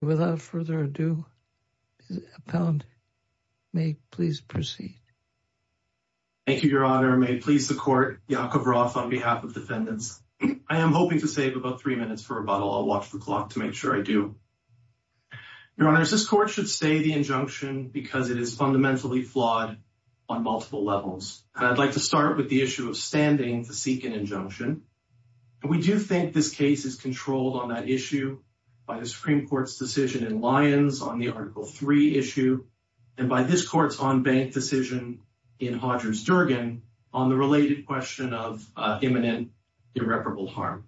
without further ado, may please proceed. Thank you, Your Honor. May it please the court, Yakov Roth on behalf of the defendants. I am hoping to save about three minutes for rebuttal. I'll watch the clock to make sure I do. Your Honor, this court should stay the injunction because it is fundamentally flawed on multiple levels. I'd like to start with the issue of standing to seek an injunction. We do think this case is controlled on that issue by the decision in Lyons on the Article III issue and by this court's on-bank decision in Hodgins-Durgan on the related question of imminent irreparable harm.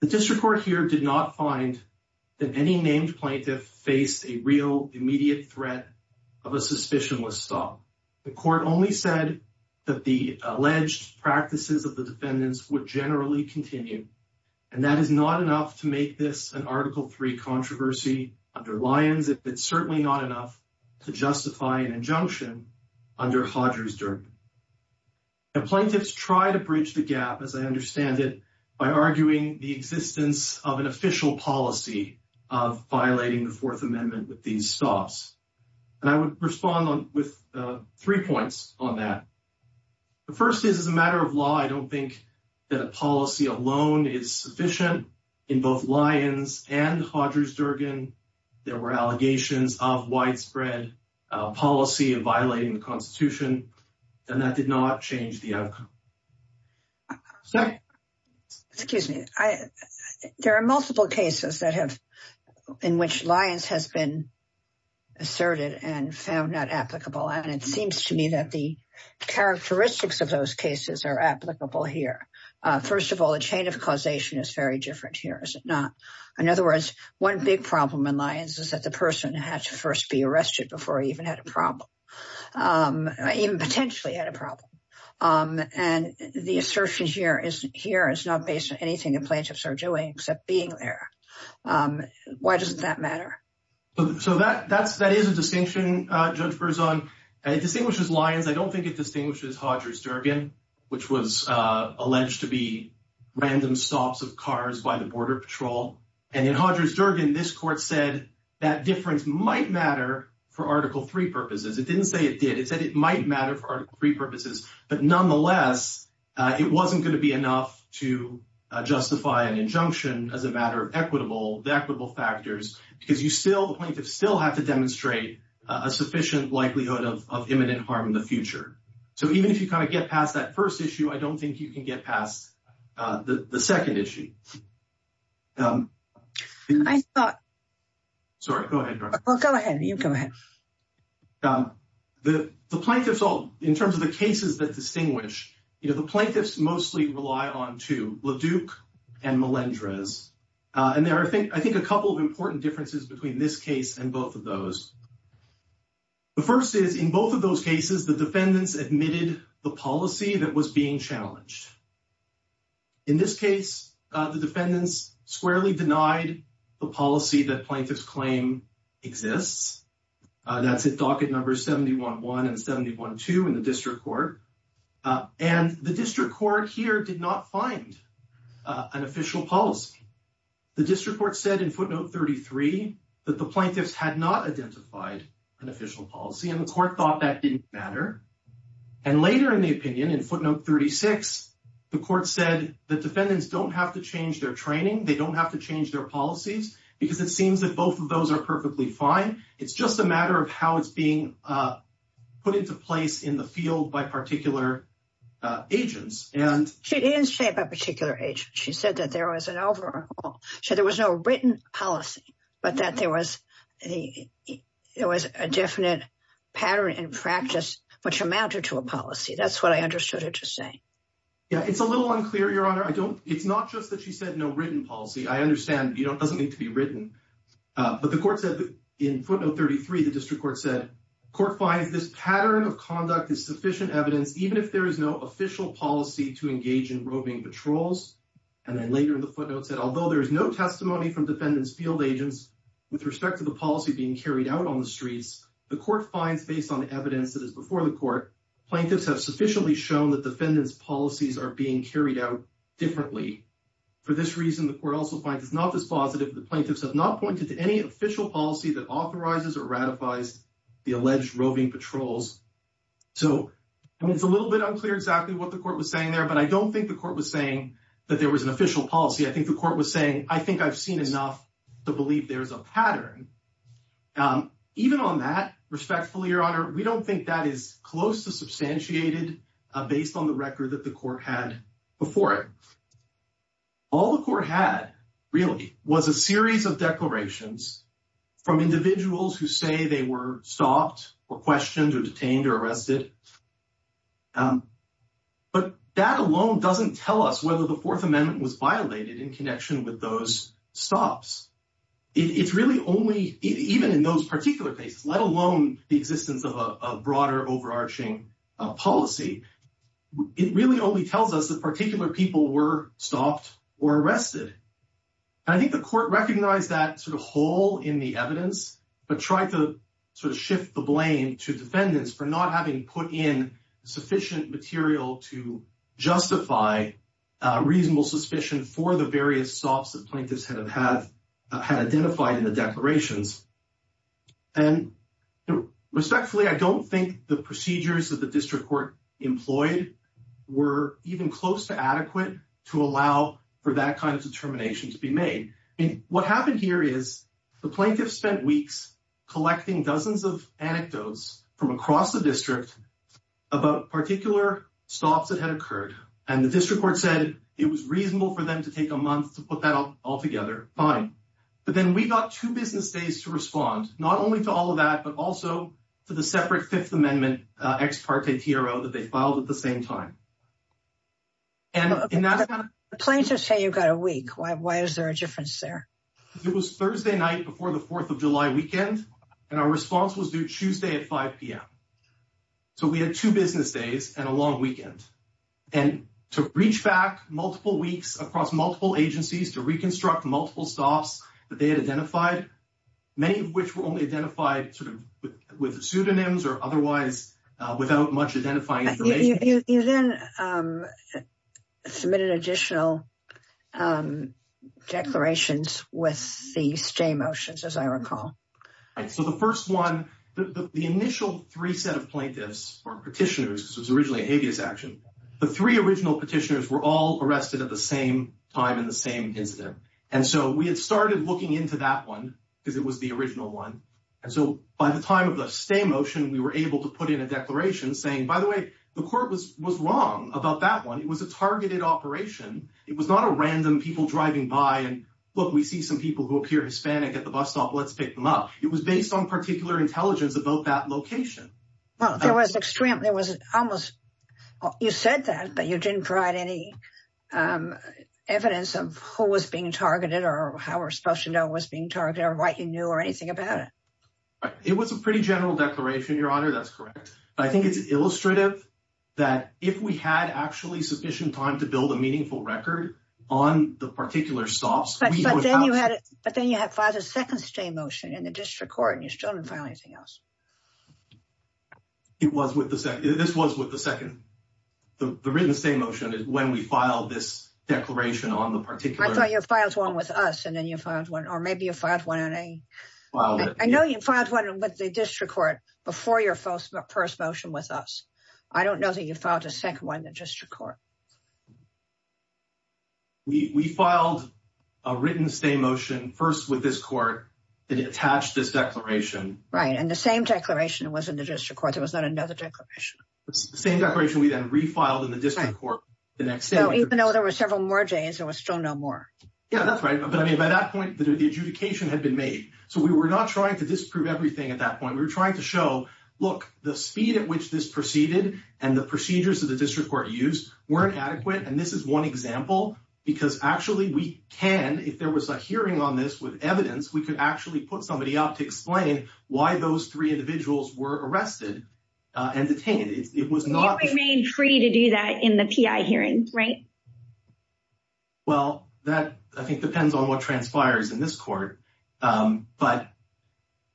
The district court here did not find that any named plaintiff faced a real immediate threat of a suspicion was sought. The court only said that the alleged practices of the defendants would generally continue and that is not enough to make this an Article III controversy under Lyons. It's certainly not enough to justify an injunction under Hodgins-Durgan. And plaintiffs try to bridge the gap, as I understand it, by arguing the existence of an official policy of violating the Fourth Amendment with these stops. And I would respond with three points on that. The first is, as a matter of law, I don't think that a policy alone is sufficient in both Lyons and Hodgins-Durgan. There were allegations of widespread policy of violating the Constitution and that did not change the outcome. Excuse me. There are multiple cases that have, in which Lyons has been asserted and found not applicable. And it seems to me that the characteristics of those cases are applicable here. First of all, the chain of causation is very different here, is it not? In other words, one big problem in Lyons is that the person had to first be arrested before he even had a problem, even potentially had a problem. And the assertion here is not based on anything the plaintiffs are doing except being there. Why doesn't that matter? So that is a distinction, Judge Berzon. It distinguishes Lyons. I don't think it distinguishes Hodgins-Durgan which was alleged to be random stops of cars by the Border Patrol. And in Hodgins-Durgan, this court said that difference might matter for Article III purposes. It didn't say it did. It said it might matter for Article III purposes. But nonetheless, it wasn't going to be enough to justify an injunction as a matter of equitable, the equitable factors, because you still, the plaintiffs still have to demonstrate a sufficient likelihood of imminent harm in the future. So even if you kind of get past that first issue, I don't think you can get past the second issue. Sorry, go ahead. Go ahead. You go ahead. The plaintiffs all, in terms of the cases that distinguish, you know, the plaintiffs mostly rely on two, LeDuc and Melendrez. And there are, I think, a couple of important differences between this case and both of those. The first is, in both of those cases, the defendants admitted the policy that was being challenged. In this case, the defendants squarely denied the policy that Plaintiff's Claim exists. That's at docket numbers 71-1 and 71-2 in the District Court. And the District Court here did not find an official policy. The District Court said in footnote 33 that the plaintiffs had not identified an official policy, and the court thought that didn't matter. And later in the opinion, in footnote 36, the court said the defendants don't have to change their training, they don't have to change their policies, because it seems that both of those are perfectly fine. It's just a matter of how it's being put into place in the field by particular agents. And... It did shape a particular agent. She said that there was an overall... She said there was no written policy, but that there was a definite pattern in practice which amounted to a policy. That's what I understood her to say. Yeah, it's a little unclear, Your Honor. I don't... It's not just that she said no written policy. I understand it doesn't need to be written. But the court said in footnote 33, the District Court said, court finds this pattern of conduct is sufficient evidence, even if there is no official policy to engage in roving patrols. And then later in the footnote said, although there is no testimony from defendants' field agents with respect to the policy being carried out on the streets, the court finds based on evidence that is before the court, plaintiffs have sufficiently shown that defendants' policies are being carried out differently. For this reason, the court also finds, if not this positive, the plaintiffs have not pointed to any official policy that authorizes or ratifies the alleged roving patrols. So, it's a little bit unclear exactly what the court was saying there, but I there was an official policy. I think the court was saying, I think I've seen enough to believe there's a pattern. Even on that, respectfully, Your Honor, we don't think that is close to substantiated based on the record that the court had before it. All the court had really was a series of declarations from individuals who say they were stopped or questioned or detained or arrested. But that alone doesn't tell us whether the Fourth Amendment was violated in connection with those stops. It's really only, even in those particular cases, let alone the existence of a broader overarching policy, it really only tells us that particular people were stopped or arrested. I think the court recognized that sort of hole in the evidence, but tried to sort of shift the to defendants for not having put in sufficient material to justify reasonable suspicion for the various stops that plaintiffs had identified in the declarations. And respectfully, I don't think the procedures that the district court employed were even close to adequate to allow for that kind of determination to be made. I mean, what happened here is the plaintiffs spent weeks collecting dozens of anecdotes from across the district about particular stops that had occurred. And the district court said it was reasonable for them to take a month to put that all together. Fine. But then we got two business days to respond, not only to all of that, but also to the separate Fifth Amendment ex parte TRO that they filed at the same time. Plaintiffs say you've got a week. Why is there a difference there? It was Thursday night before the 4th of July weekend, and our response was due Tuesday at 5 p.m. So we had two business days and a long weekend. And to reach back multiple weeks across multiple agencies to reconstruct multiple stops that they had identified, many of which were only identified with pseudonyms or otherwise without much identifying. You then submitted additional declarations with the stay motions, as I recall. So the first one, the initial three set of plaintiffs or petitioners, the three original petitioners were all arrested at the same time in the same incident. And so we had started looking into that one because it was the original one. And so by the time of the stay motion, we were able to put in a declaration saying, by the way, the court was wrong about that one. It was a targeted operation. It was not a random people driving by and, look, we see some people who appear Hispanic at the bus stop. Let's pick them up. It was based on particular intelligence about that location. Well, there was extreme, there was almost, you said that, but you didn't provide any evidence of who was being targeted or how were supposed to know what's being targeted or what you knew or anything about it. It was a pretty general declaration, that's correct. I think it's illustrative that if we had actually sufficient time to build a meaningful record on the particular stops, but then you had a second stay motion in the district court and you still didn't find anything else. It was with the second, this was with the second, the written stay motion is when we filed this declaration on the particular, your files along with us. And then you find one, you find one in the district court before your first motion with us. I don't know that you filed a second one in the district court. We filed a written stay motion first with this court that attached this declaration. Right. And the same declaration was in the district court. There was not another declaration. The same declaration we then refiled in the district court. So even though there were several more days, there was still no more. Yeah, that's right. But I mean, by that point, the adjudication had been made. So we were not trying to disprove everything at that point. We were trying to show, look, the speed at which this proceeded and the procedures that the district court used weren't adequate. And this is one example, because actually we can, if there was a hearing on this with evidence, we could actually put somebody up to explain why those three individuals were arrested and detained. It was not- They were made free to do that in the PI hearings, right? Well, that, I think, depends on what transpires in this court. But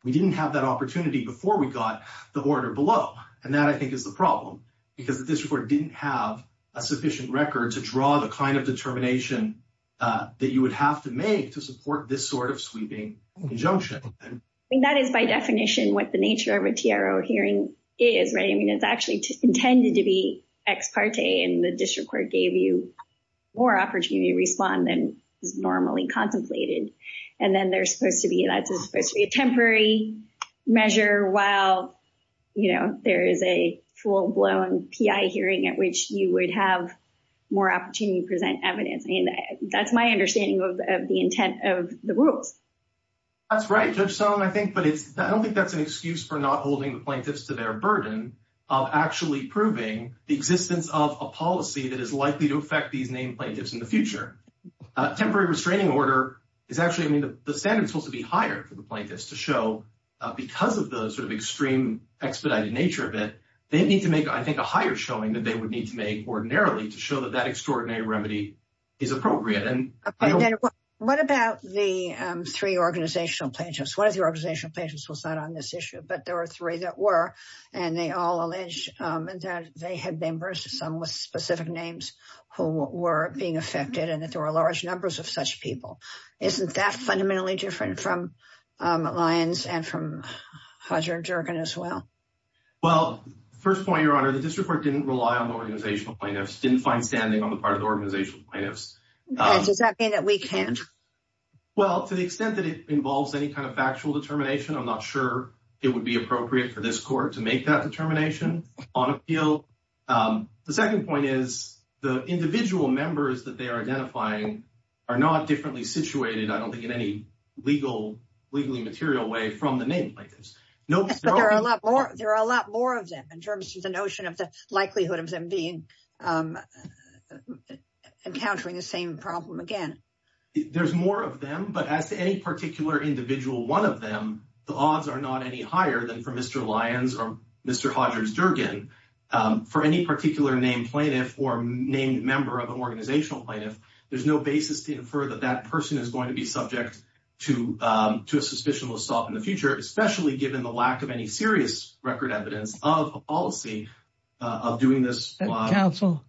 we didn't have that opportunity before we got the order below. And that, I think, is the problem, because the district court didn't have a sufficient record to draw the kind of determination that you would have to make to support this sort of sweeping injunction. I mean, that is by definition what the nature of a TRO hearing is, right? I mean, it's actually intended to be ex parte, and the district court gave you more opportunity to respond than normally contemplated. And then there's supposed to be a temporary measure while there is a full-blown PI hearing at which you would have more opportunity to present evidence. That's my understanding of the intent of the rule. That's right. I don't think that's an excuse for not holding the plaintiffs to their burden of actually proving the existence of a policy that is likely to affect these named plaintiffs in the future. Temporary restraining order is actually- I mean, the standard is supposed to be higher for the plaintiffs to show, because of the sort of extreme expedited nature of it, they need to make, I think, a higher showing than they would need to make ordinarily to show that that extraordinary remedy is appropriate. Okay. What about the three organizational plaintiffs? One of the organizational plaintiffs was not on this issue, but there were three that and they all alleged that they had been versus them with specific names who were being affected, and that there were large numbers of such people. Isn't that fundamentally different from Lyons and from Hodger and Jergen as well? Well, first point, Your Honor, the district court didn't rely on the organizational plaintiffs, didn't find standing on the part of the organizational plaintiffs. Okay. Does that mean that we can't? Well, to the extent that it involves any kind of factual determination, I'm not sure it would be appropriate for this court to make that determination on appeal. The second point is the individual members that they are identifying are not differently situated, I don't think, in any legally material way from the name plaintiffs. There are a lot more of them in terms of the notion of the likelihood of them encountering the same problem again. There's more of them, but as a particular individual, one of them, the odds are not any higher than for Mr. Lyons or Mr. Hodger and Jergen. For any particular name plaintiff or named member of an organizational plaintiff, there's no basis to infer that that person is going to be subject to a suspicional assault in the future, especially given the lack of any record evidence of a policy of doing this. Counsel,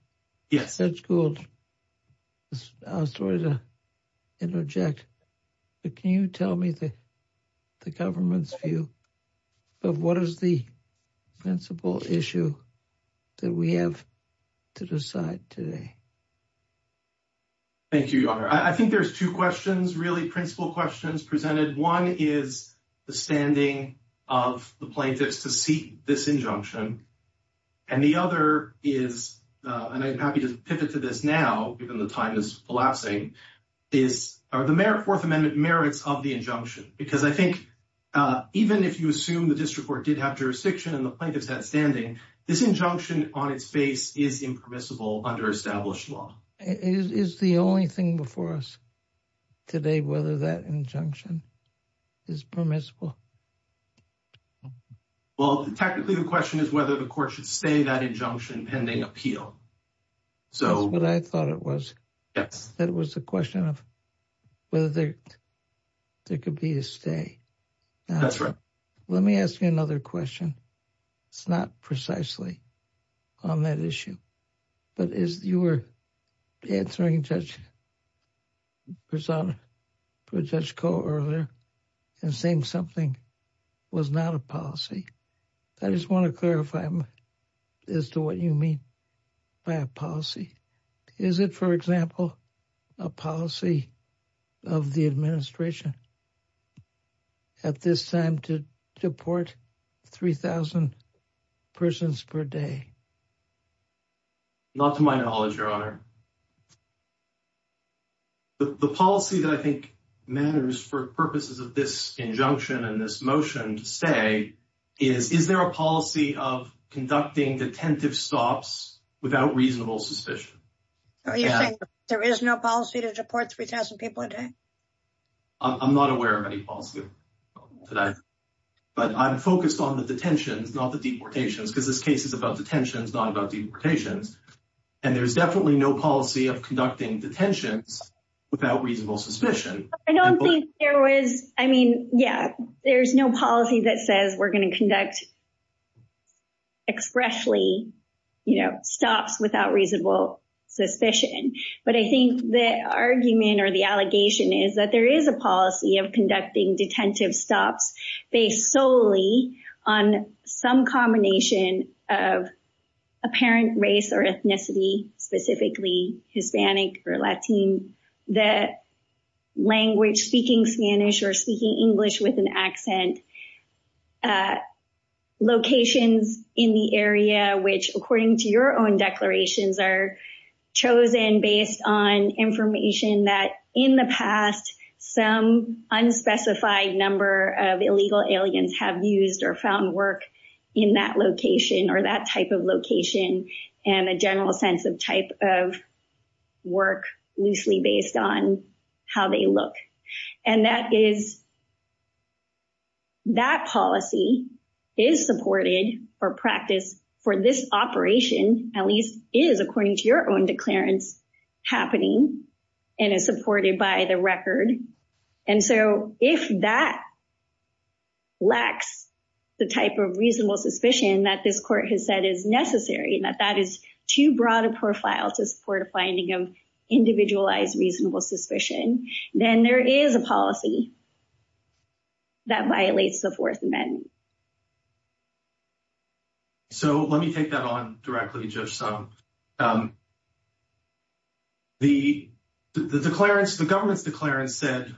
I'm sorry to interject, but can you tell me the government's view of what is the principle issue that we have to decide today? Thank you, Your Honor. I think there's two questions, really, principle questions presented. One is the standing of the plaintiffs to seek this injunction, and the other is, and I'm happy to pivot to this now, given the time is collapsing, is are the Fourth Amendment merits of the injunction? Because I think even if you assume the district court did have jurisdiction and the plaintiff had standing, this injunction on its face is impermissible under established law. Is the only thing before us today whether that injunction is permissible? Well, technically the question is whether the court should stay that injunction pending appeal. That's what I thought it was. Yes. It was a question of whether there could be a stay. That's right. Let me ask you another question. It's not precisely on that issue, but as you were answering Judge Grisanti, Judge Kohler earlier and saying something was not a policy, I just want to clarify as to what you mean by a policy. Is it, for example, a policy of the administration at this time to deport 3,000 persons per day? Not to my knowledge, Your Honor. The policy that I think matters for purposes of this injunction and this motion to stay is, is there a policy of conducting detentive stops without reasonable suspicion? Are you saying there is no policy to deport 3,000 people a day? I'm not aware of any policy. But I'm focused on the detention, not the deportations, because this case is about detentions, not about deportations. And there's definitely no policy of conducting detentions without reasonable suspicion. I don't think there was, I mean, yeah, there's no policy that says we're going to conduct expressly, you know, stops without reasonable suspicion. But I think the argument or the allegation is that there is a policy of conducting detentive stops based solely on some combination of apparent race or ethnicity, specifically Hispanic or Latino, that language, speaking Spanish or speaking English with an accent, locations in the area which, according to your own declarations, are chosen based on information that in the past some unspecified number of illegal aliens have used or found work in that location or that type of location and a general sense of type of work loosely based on how they look. And that is, that policy is supported or practiced for this operation, at least is, according to your own declarants, happening and is supported by the record. And so if that lacks the type of reasonable suspicion that this court has said is necessary, that that is too broad a profile to support a finding of individualized reasonable suspicion, then there is a policy that violates the Fourth Amendment. So let me take that on directly, Judge Stumpf. The declarants, the government's declarants said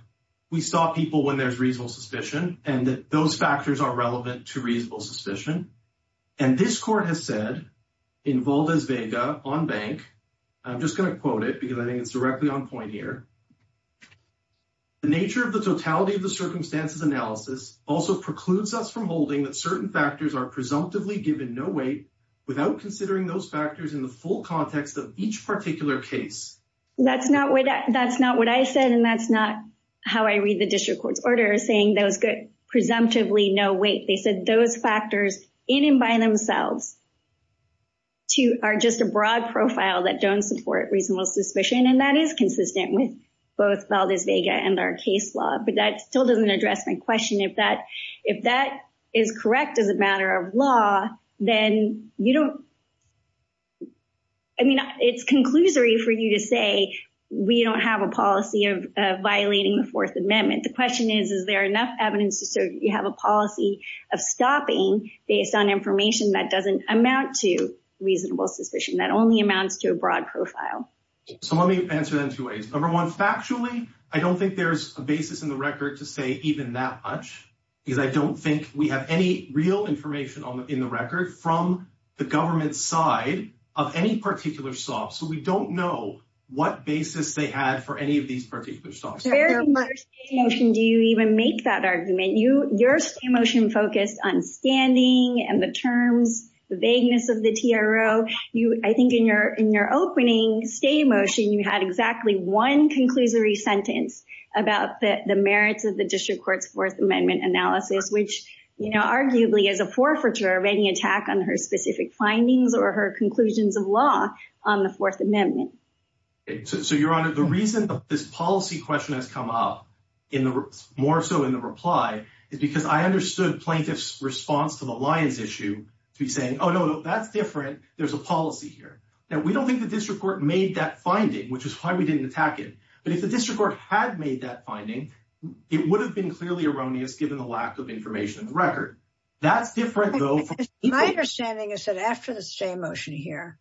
we stop people when there's reasonable suspicion and that those factors are relevant to reasonable suspicion. And this court has said in Valdes-Vega on bank, I'm just going to quote it because I think it's directly on point here, the nature of the totality of the circumstances analysis also precludes us from holding that certain factors are presumptively given no weight without considering those factors in the full context of each particular case. That's not what, that's not what I said and that's not how I read the district court's order saying those get presumptively no weight. They said those factors in and by themselves are just a broad profile that don't support reasonable suspicion. And that is consistent with both Valdes-Vega and our case law, but that still doesn't address my question. If that, if that is correct as a matter of law, then you don't, I mean, it's conclusory for you to say we don't have a policy of violating the Fourth Amendment. The question is, is there enough evidence to show you have a policy of stopping based on information that doesn't amount to reasonable suspicion, that only amounts to a broad profile. So let me answer them two ways. Number one, factually, I don't think there's a basis in the record to say even that much, because I don't think we have any real information in the record from the government's side of any particular SOF. So we don't know what basis they had for any of these particular SOFs. Where in my motion do you even make that argument? You, your motion focused on standing and the terms, the vagueness of the TRO. You, I think in your, in your opening stay motion, you had exactly one conclusory sentence about the merits of the district court's Fourth Amendment analysis, which, you know, arguably is a forfeiture of any attack on her specific findings or her conclusions of law on the Fourth Amendment. Okay. So, so Your Honor, the reason that this policy question has come up in the, more so in the reply is because I understood plaintiff's response to the Lyons issue to be saying, oh no, that's different. There's a policy here that we don't think the district court made that finding, which is why we didn't attack it. But if the district court had made that finding, it would have been clearly erroneous given the lack of information in the record. That's different though. My understanding is that after the stay motion here,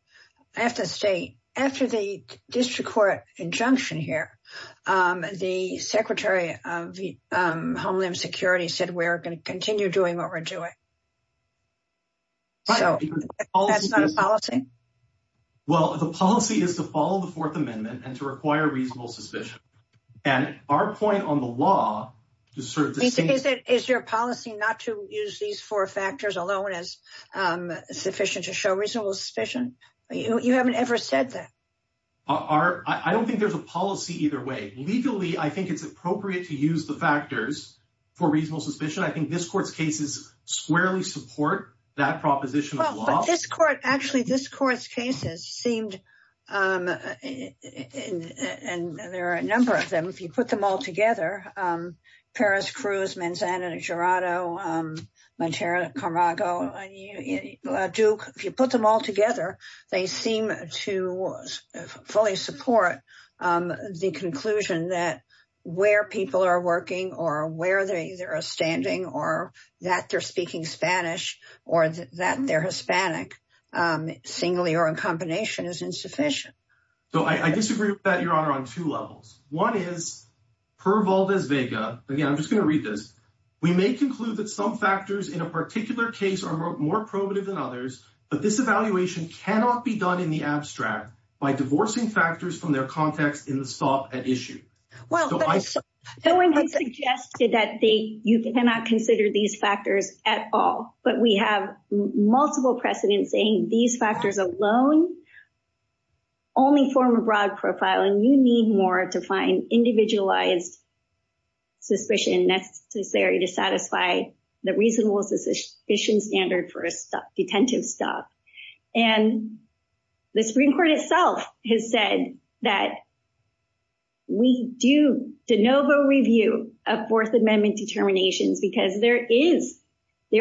I have to say after the district court injunction here, the secretary of Homeland security said, we're going to continue doing what we're doing. Well, the policy is to follow the Fourth Amendment and to require reasonable suspicion. And our point on the law is your policy, not to use these four factors alone as sufficient to show reasonable suspicion. You haven't ever said that. I don't think there's a policy either way. Legally, I think it's appropriate to use the factors for reasonable suspicion. I think this court's cases squarely support that proposition. Actually, this court's cases seemed, and there are a number of them. If you put them all together, Paris, Cruz, Manzano, Jurado, Montero, Camargo, Duke, if you put them all together, they seem to fully support the conclusion that where people are working or where they are standing or that they're speaking Spanish or that they're Hispanic singly or in combination is insufficient. So I disagree with that, your honor, on two levels. One is per Voldez-Vega. Again, I'm just going to read this. We may conclude that some factors in a particular case are more probative than others, but this evaluation cannot be done in the abstract by divorcing factors from their context in the thought at issue. Someone has suggested that you cannot consider these factors at all, but we have multiple precedents saying these factors alone only form a broad profile, and you need more to find individualized suspicion necessary to satisfy the reasonable suspicion standard for detentive staff. And the Supreme Court itself has said that we do de novo review of Fourth Amendment determination because there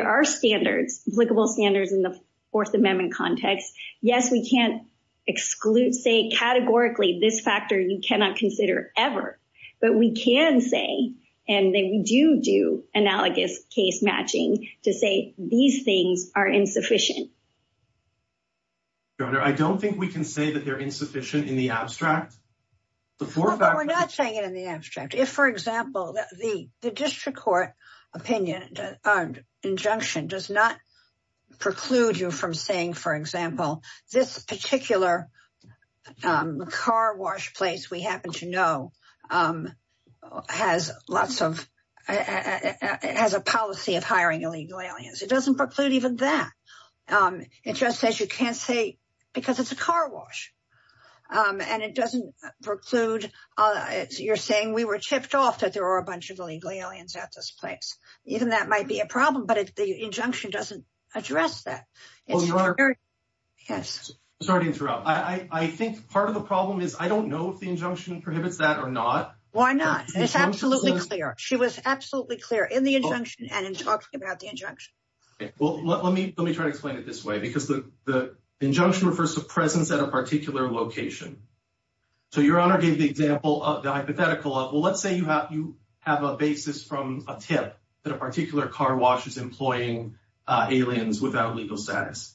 are standards, applicable standards in the Fourth Amendment context. Yes, we can't exclude, say categorically, this factor you cannot consider ever, but we can say, and then we do do analogous case matching to say these things are insufficient. Your honor, I don't think we can say that they're insufficient in the abstract. We're not saying it in the abstract. If, for example, the district court opinion injunction does not preclude you from saying, for example, this particular car wash place we happen to know has a policy of hiring illegal aliens. It doesn't preclude even that. It just says you can't say because it's a car wash, and it doesn't preclude you're saying we were chipped off that there are a bunch of illegal aliens at this place. Even that might be a problem, but if the injunction doesn't address that. Sorry to interrupt. I think part of the problem is I don't know if the injunction prohibits that or not. Why not? It's absolutely clear. She was absolutely clear in the injunction and in talking about the injunction. Well, let me try to explain it this way because the injunction refers to presence at a particular location. So your honor gave the example of the hypothetical. Well, say you have a basis from a tip that a particular car wash is employing aliens without a legal status.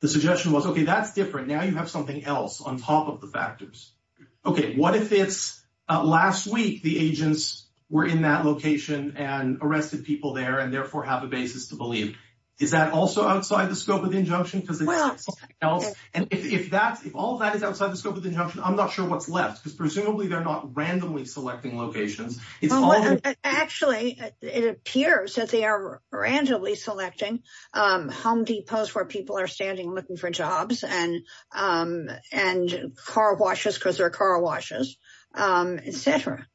The suggestion was, okay, that's different. Now you have something else on top of the factors. Okay, what if last week the agents were in that location and arrested people there and therefore have a basis to believe? Is that also outside the scope of the injunction? And if all that is outside the scope of the injunction, I'm not sure what's left because presumably they're not randomly selecting locations. Well, actually it appears that they are randomly selecting, um, home depots where people are standing looking for jobs and, um, and car washes because they're car washes, um, et cetera.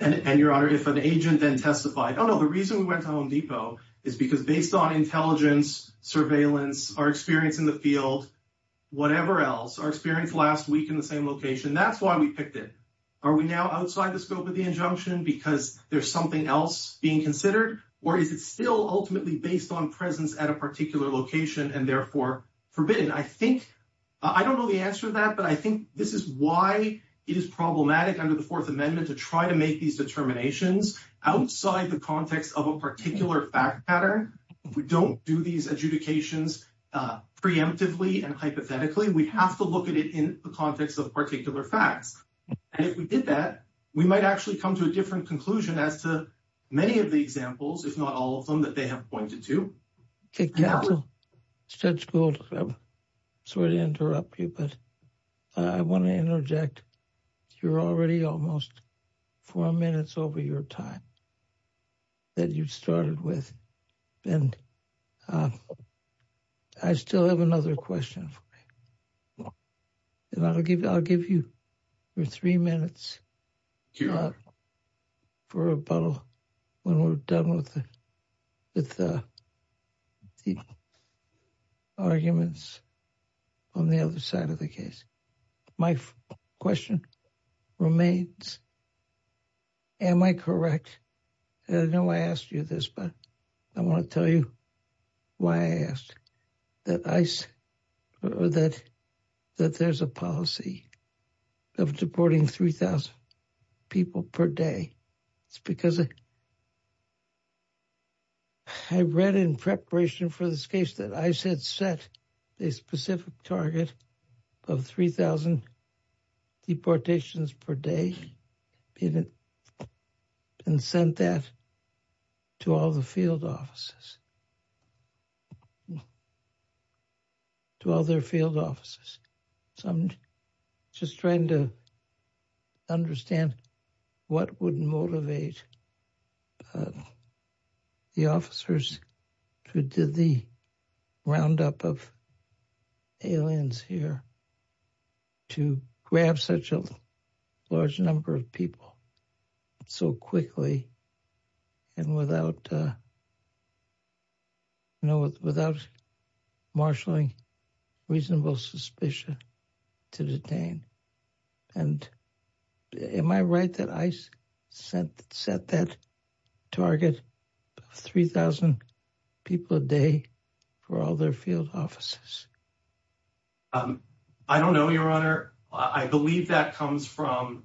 And your honor, if an agent then testified, oh, no, the reason we went to Home Depot is because based on intelligence, surveillance, our experience in the field, whatever else, our experience last week in the same location, that's why we picked it. Are we now outside the scope of the injunction because there's something else being considered or is it still ultimately based on presence at a particular location and therefore forbidden? I think, I don't know the answer to that, but I think this is why it is problematic under the Fourth Amendment to try to make these determinations outside the context of a particular fact pattern. We don't do these adjudications, uh, preemptively and hypothetically. We have to look at it in the context of particular facts. And if we did that, we might actually come to a different conclusion as to many of the examples, if not all of them that they have pointed to. Judge Gould, sorry to interrupt you, but I want to interject. You're already almost four minutes over your time that you've started with. And, uh, I still have another question. And I'll give, I'll give you three minutes for a bubble when we're done with the arguments on the other side of the case. My question remains, am I correct? I know I asked you this, but I want to tell you why I asked that there's a policy of deporting 3,000 people per day. It's because I read in preparation for this case that ICE had set a specific target of 3,000 deportations per day and sent that to all the field offices, to all their field offices. So I'm just trying to understand what would motivate the officers who did the roundup of aliens here to grab such a large number of people so quickly and without, you know, without marshalling reasonable suspicion to detain. And am I right that ICE set that target 3,000 people a day for all their field offices? I don't know, your honor. I believe that comes from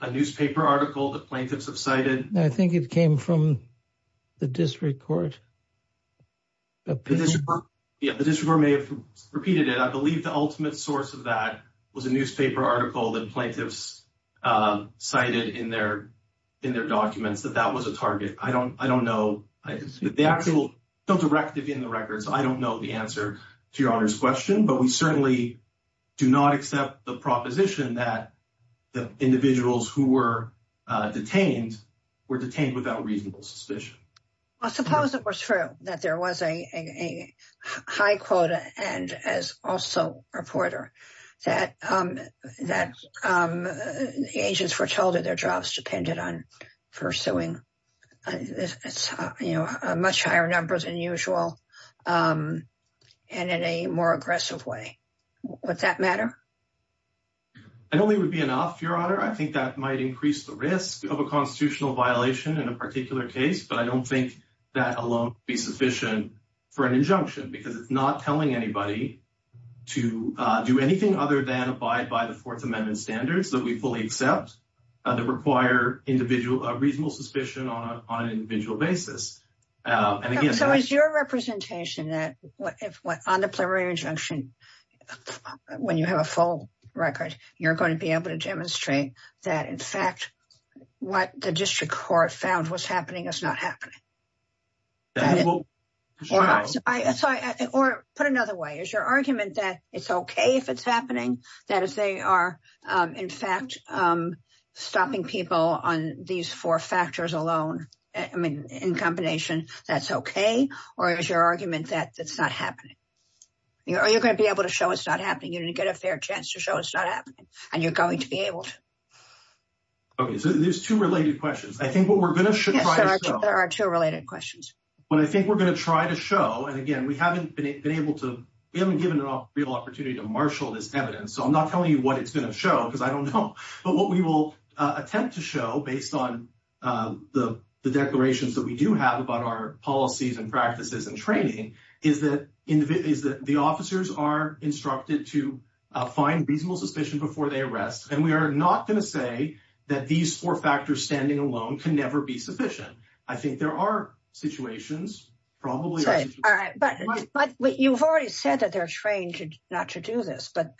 a newspaper article that plaintiffs have cited. I think it came from the district court. Yeah, the district court may have repeated it. I believe the ultimate source of that was a newspaper article that plaintiffs cited in their documents that that was a target. I don't know. I don't know the answer to your honor's question, but we certainly do not accept the proposition that the individuals who were detained were detained without reasonable suspicion. I suppose it was true that there was a a high quota and as also a reporter that the agents were told that their jobs depended on pursuing much higher numbers than usual and in a more aggressive way. Would that matter? I don't think it would be enough, your honor. I think that might increase the risk of a constitutional violation in a particular case, but I don't think that alone would be sufficient for an injunction because it's not telling anybody to do anything other than abide by the Fourth Amendment standards that we fully accept that require a reasonable suspicion on an individual basis. So it's your representation that if on the preliminary injunction, when you have a full record, you're going to be able to demonstrate that in fact what the district court found was happening. Or put another way, is your argument that it's okay if it's happening? That if they are in fact stopping people on these four factors alone in combination, that's okay? Or is your argument that it's not happening? You're going to be able to show it's not happening. You're going to get a fair chance to show it's not happening and you're going to be able to. Okay, so there's two related questions. I think what we're going to show. There are two related questions. But I think we're going to try to show, and again, we haven't been able to, we haven't given an opportunity to marshal this evidence. So I'm not telling you what it's going to show because I don't know. But what we will attempt to show based on the declarations that we do have about our policies and practices and training is that the officers are instructed to find reasonable suspicion before they arrest. And we are not going to say that these four factors standing alone can never be sufficient. I think there are situations, probably. Right, all right. But you've already said that they're trained not to do this. But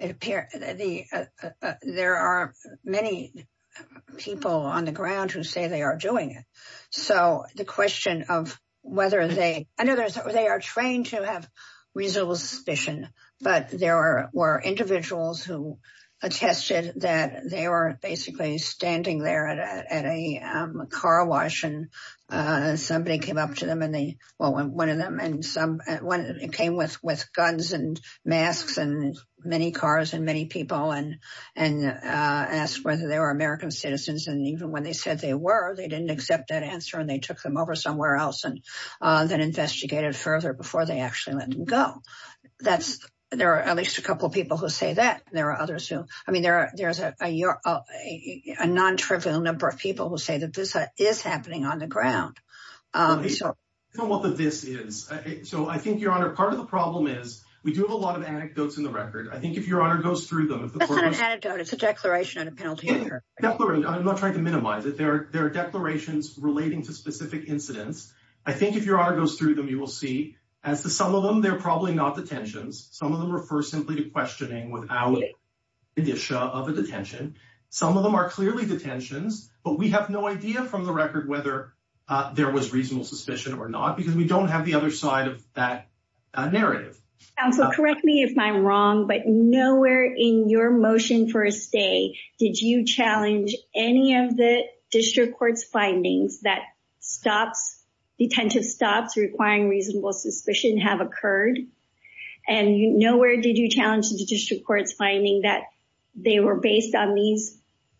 there are many people on the ground who say they are doing it. So the question of whether they, they are trained to have reasonable suspicion, but there were individuals who attested that they were basically standing there at a carwash and somebody came up to them and they, well, one of them and some came with guns and masks and many cars and many people and asked whether they were American citizens. And even when they said they were, they didn't accept that answer and they took them over somewhere else and then investigated further before they actually let them go. That's, there are at least a couple of people who say that. There are others who, I mean, there are, there's a non-trivial number of people who say that this is happening on the ground. So I think your honor, part of the problem is we do have a lot of anecdotes in the record. I think if your honor goes through them, it's a declaration and a penalty. I'm not trying to minimize it. There are declarations relating to specific incidents. I think if your honor goes through them, you will see, and for some of them, they're probably not detentions. Some of them are personally questioning without the condition of a detention. Some of them are clearly detentions, but we have no idea from the record whether there was reasonable suspicion or not, because we don't have the other side of that narrative. So correct me if I'm wrong, but nowhere in your motion for a day did you challenge any of the district court's findings that stops, detentive stops requiring reasonable suspicion have occurred, and nowhere did you challenge the district court's finding that they were based on these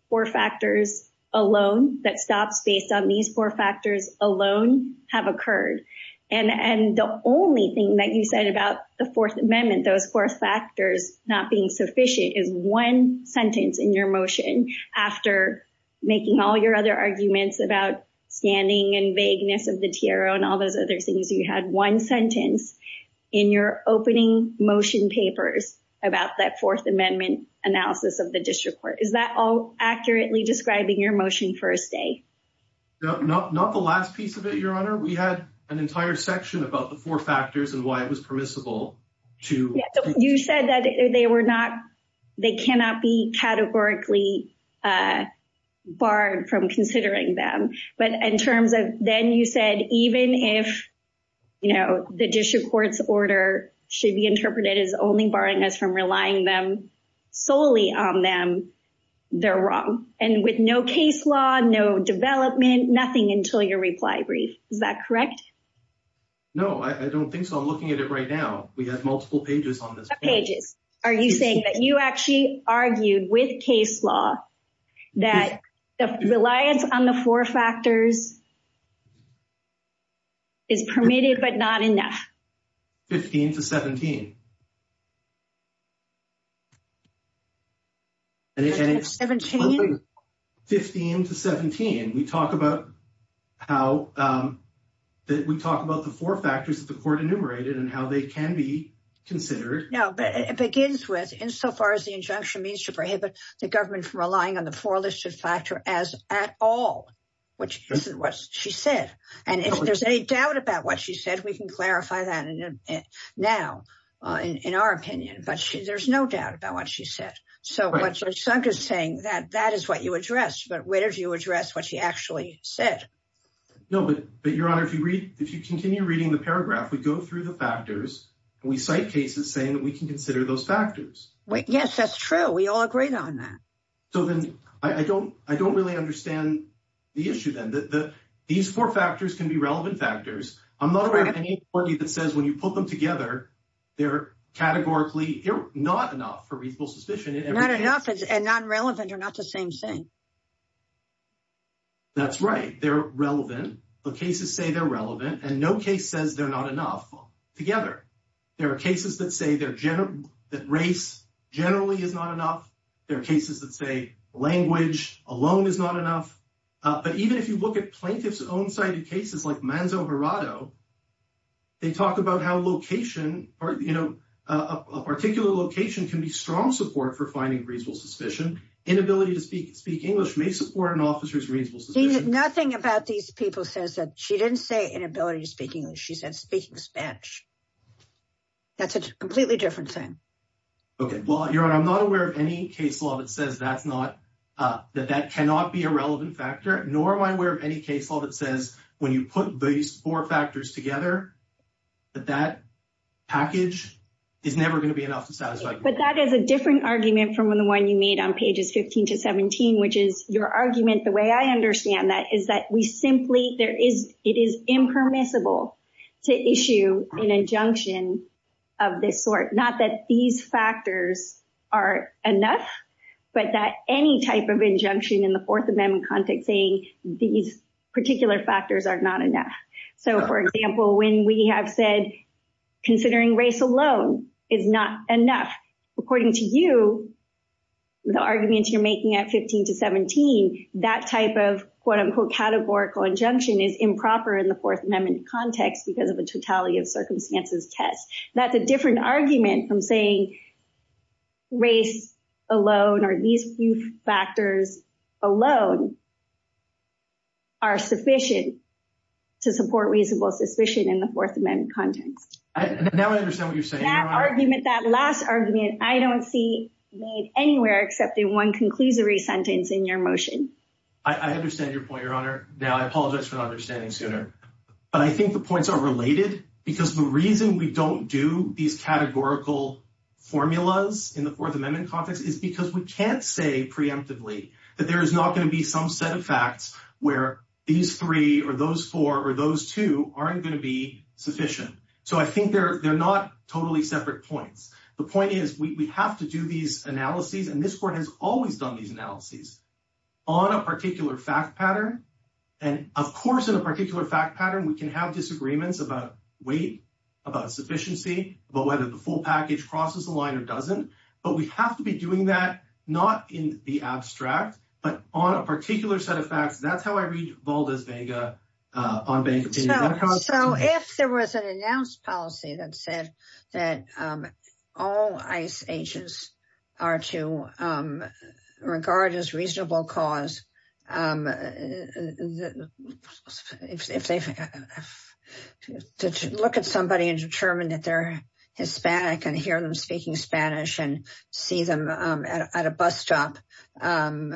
four factors alone, that stops based on these four factors alone have occurred. And the only thing that you said about the Fourth Amendment, those four factors not being one sentence in your motion after making all your other arguments about standing and vagueness of the TRO and all those other things, you had one sentence in your opening motion papers about that Fourth Amendment analysis of the district court. Is that all accurately describing your motion for a stay? No, not the last piece of it, your honor. We had an entire section about the four factors and why it was permissible to... You said that they were not, they cannot be categorically barred from considering them, but in terms of then you said even if, you know, the district court's order should be interpreted as only barring us from relying solely on them, they're wrong. And with no case law, no development, nothing until your reply brief. Is that correct? No, I don't think so. I'm looking at it right now. We have multiple pages on this. How many pages are you saying that you actually argued with case law that the reliance on the four factors is permitted but not enough? 15 to 17. 15 to 17. We talk about how we talk about the four factors that the court enumerated and how they can be considered. No, but it begins with insofar as the injunction means to prohibit the government from relying on the four listed factor as at all, which is what she said. And in our opinion, but there's no doubt about what she said. So what you're saying that that is what you addressed, but where do you address what she actually said? No, but your honor, if you read, if you continue reading the paragraph, we go through the factors and we cite cases saying that we can consider those factors. Yes, that's true. We all agreed on that. So then I don't, I don't really understand the issue then that these four factors can be relevant factors. I'm not aware of any that says when you put them together, they're categorically not enough for reasonable suspicion. Not enough and non-relevant are not the same thing. That's right. They're relevant. The cases say they're relevant and no case says they're not enough together. There are cases that say that race generally is not enough. There are cases that say language alone is not enough. But even if you look at plaintiff's own cited cases like Manzo Verado, they talk about how location or, you know, a particular location can be strong support for finding reasonable suspicion. Inability to speak English may support an officer's reasonable suspicion. Nothing about these people says that she didn't say inability to speak English. She said speaking Spanish. That's a completely different thing. Okay. Well, your honor, I'm not aware of any case law that says that's not, that that cannot be a relevant factor, nor am I aware of any case law that says when you put these four factors together, that that package is never going to be enough to satisfy. But that is a different argument from the one you made on pages 15 to 17, which is your argument, the way I understand that, is that we simply, there is, it is impermissible to issue an injunction of this sort. Not that these factors are enough, but that any type of injunction in the Fourth Amendment context saying these particular factors are not enough. So, for example, when we have said considering race alone is not enough, according to you, the arguments you're making at 15 to 17, that type of quote unquote categorical injunction is improper in the Fourth Amendment context because of a totality of tests. That's a different argument from saying race alone or these factors alone are sufficient to support reasonable suspicion in the Fourth Amendment context. Now I understand what you're saying. That argument, that last argument, I don't see made anywhere except in one conclusory sentence in your motion. I understand your point, your honor. Now, I apologize for not understanding sooner, but I think the points are related because the reason we don't do these categorical formulas in the Fourth Amendment context is because we can't say preemptively that there's not going to be some set of facts where these three or those four or those two aren't going to be sufficient. So, I think they're not totally separate points. The point is we have to do these analyses, and this Court has always done these analyses, on a particular fact pattern. And, of course, in a particular fact pattern, we can have disagreements about weight, about sufficiency, about whether the full package crosses the line or doesn't. But we have to be doing that not in the abstract, but on a particular set of facts. That's how I read Valdez-Vega on bank obtaining outcomes. So, if there was an announced policy that said that all ICE agents are to, regardless of reasonable cause, if they look at somebody and determine that they're Hispanic and hear them speaking Spanish and see them at a bus stop and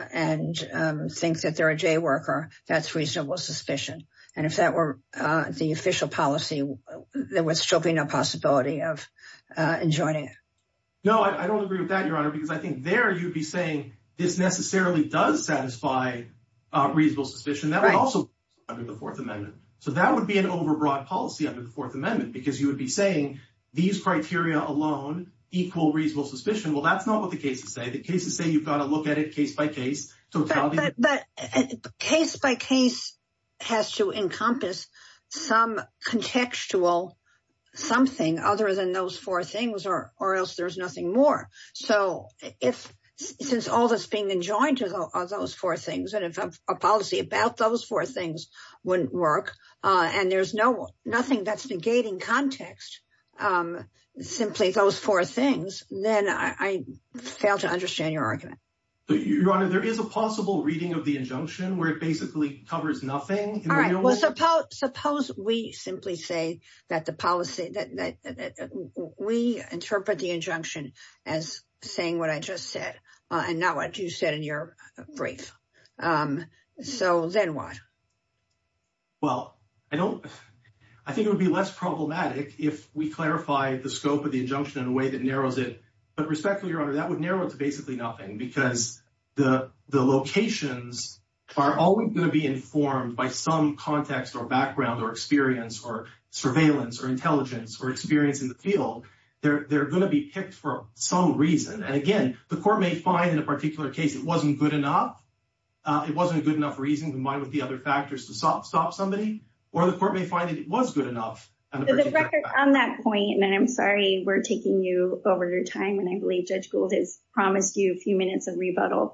think that they're a J worker, that's reasonable suspicion. And, if that were the official policy, there would still be no possibility of enjoining it. No, I don't agree with that, Your Honor, because I think there you would be saying this necessarily does satisfy reasonable suspicion. That would also be under the Fourth Amendment. So, that would be an overbroad policy under the Fourth Amendment because you would be saying these criteria alone equal reasonable suspicion. Well, that's not what the cases say. The cases say you've got to look at it case by case. But case by case has to encompass some contextual something other than those four things or else there's nothing more. So, since all that's being enjoined are those four things and if a policy about those four things wouldn't work and there's nothing that's negating context, simply those four things, then I fail to understand your argument. Your Honor, there is a possible reading of the injunction where it basically covers nothing. All right, well, suppose we simply say that we interpret the injunction as saying what I just said and not what you said in your brief. So, then what? Well, I think it would be less problematic if we clarify the scope of the injunction in a way that narrows it. But respectfully, Your Honor, that would narrow it to basically nothing because the locations are always going to be informed by some context or background or experience or surveillance or intelligence or experience in the field. They're going to be picked for some reason. And again, the court may find in a particular case it wasn't good enough. It wasn't a good enough reason in mind with the other factors to stop somebody. Or the court may find that it was good enough. So, the record on that point, and I'm taking you over your time, and I believe Judge Gould has promised you a few minutes of rebuttal.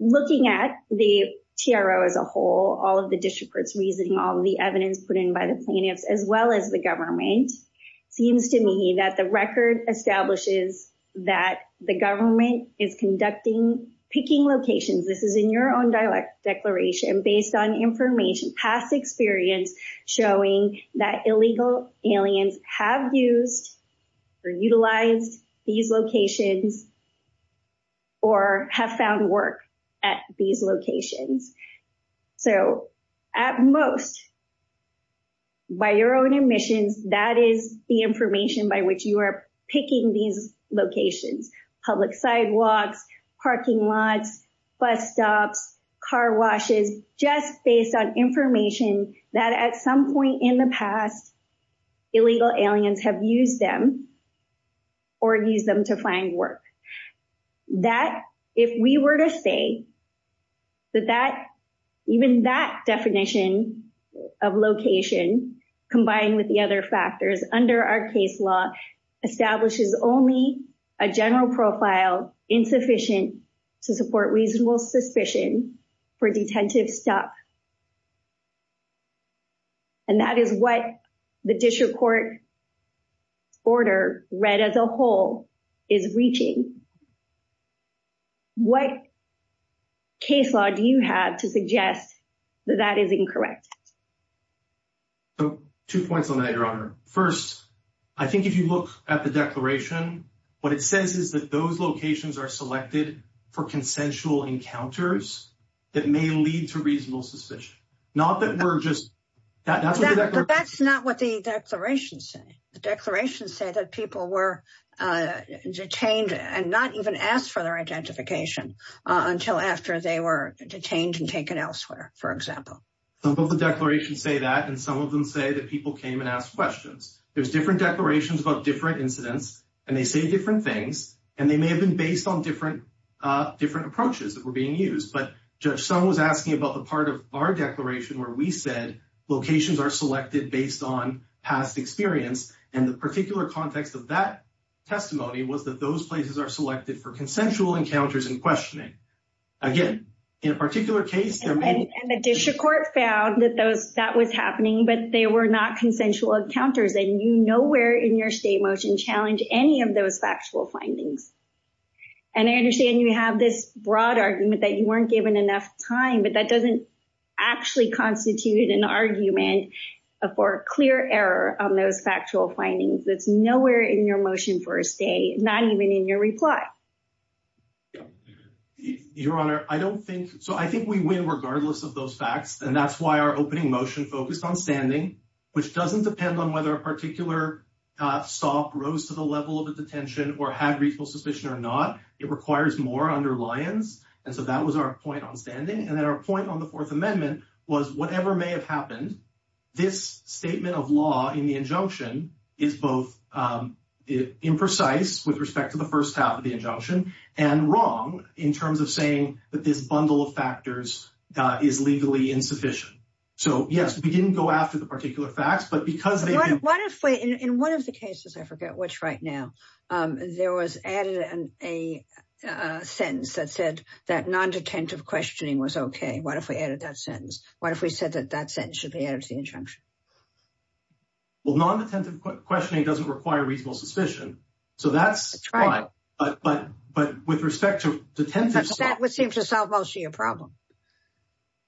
Looking at the TRO as a whole, all of the district courts reasoning, all of the evidence put in by the plaintiffs, as well as the government, it seems to me that the record establishes that the government is conducting picking locations. This is in your own dialectic based on information, past experience, showing that illegal aliens have used or utilized these locations or have found work at these locations. So, at most, by your own admission, that is the information by which you are picking these locations, public sidewalks, parking lots, bus stops, car washes, just based on information that, at some point in the past, illegal aliens have used them or used them to find work. That, if we were to say that even that definition of location, combined with the other factors under our case law, establishes only a general profile insufficient to support reasonable suspicion for detentive stuff, and that is what the district court order, read as a whole, is reaching. What case law do you have to suggest that that is incorrect? So, two points on that, Your Honor. First, I think if you look at the declaration, what it says is that those locations are selected for consensual encounters that may lead to reasonable suspicion. Not that we're just... That's not what the declaration says. The declaration said that people were detained and not even asked for their identification until after they were detained and taken elsewhere, for example. Some of the declarations say that, and some of them say that people came and asked questions. There's different declarations about different incidents, and they say different things, and they may have been based on different approaches that were being used, but Judge Sung was asking about the part of our declaration where we said locations are selected based on past experience, and the particular context of that testimony was that those places are selected for consensual encounters and questioning. Again, in a particular case... And the district court found that that was happening, but they were not consensual encounters, and you nowhere in your state motion challenge any of those factual findings. And I understand you have this broad argument that you weren't given enough time, but that doesn't actually constitute an argument for clear error on those factual findings. That's nowhere in your motion for a state, not even in your reply. Your Honor, I don't think... So I think we win regardless of those facts, and that's why our opening motion focused on standing, which doesn't depend on whether a particular SOF rose to the level of a detention or had reasonable suspicion or not. It requires more under Lyons, and so that was our point on standing. And then our point on the Fourth Amendment was whatever may have happened, this statement of law in the injunction is both imprecise with respect to the first half of the injunction and wrong in terms of saying that this bundle of factors is legally insufficient. So yes, we didn't go after the particular facts, but because they... What if we... In one of the cases, I forget which right now, there was added a sentence that said that non-detentive questioning was okay. What if we added that sentence? What if we said that that sentence should be added to the injunction? Well, non-detentive questioning doesn't require reasonable suspicion, so that's... Right. But with respect to detentive... But that would seem to solve all your problems.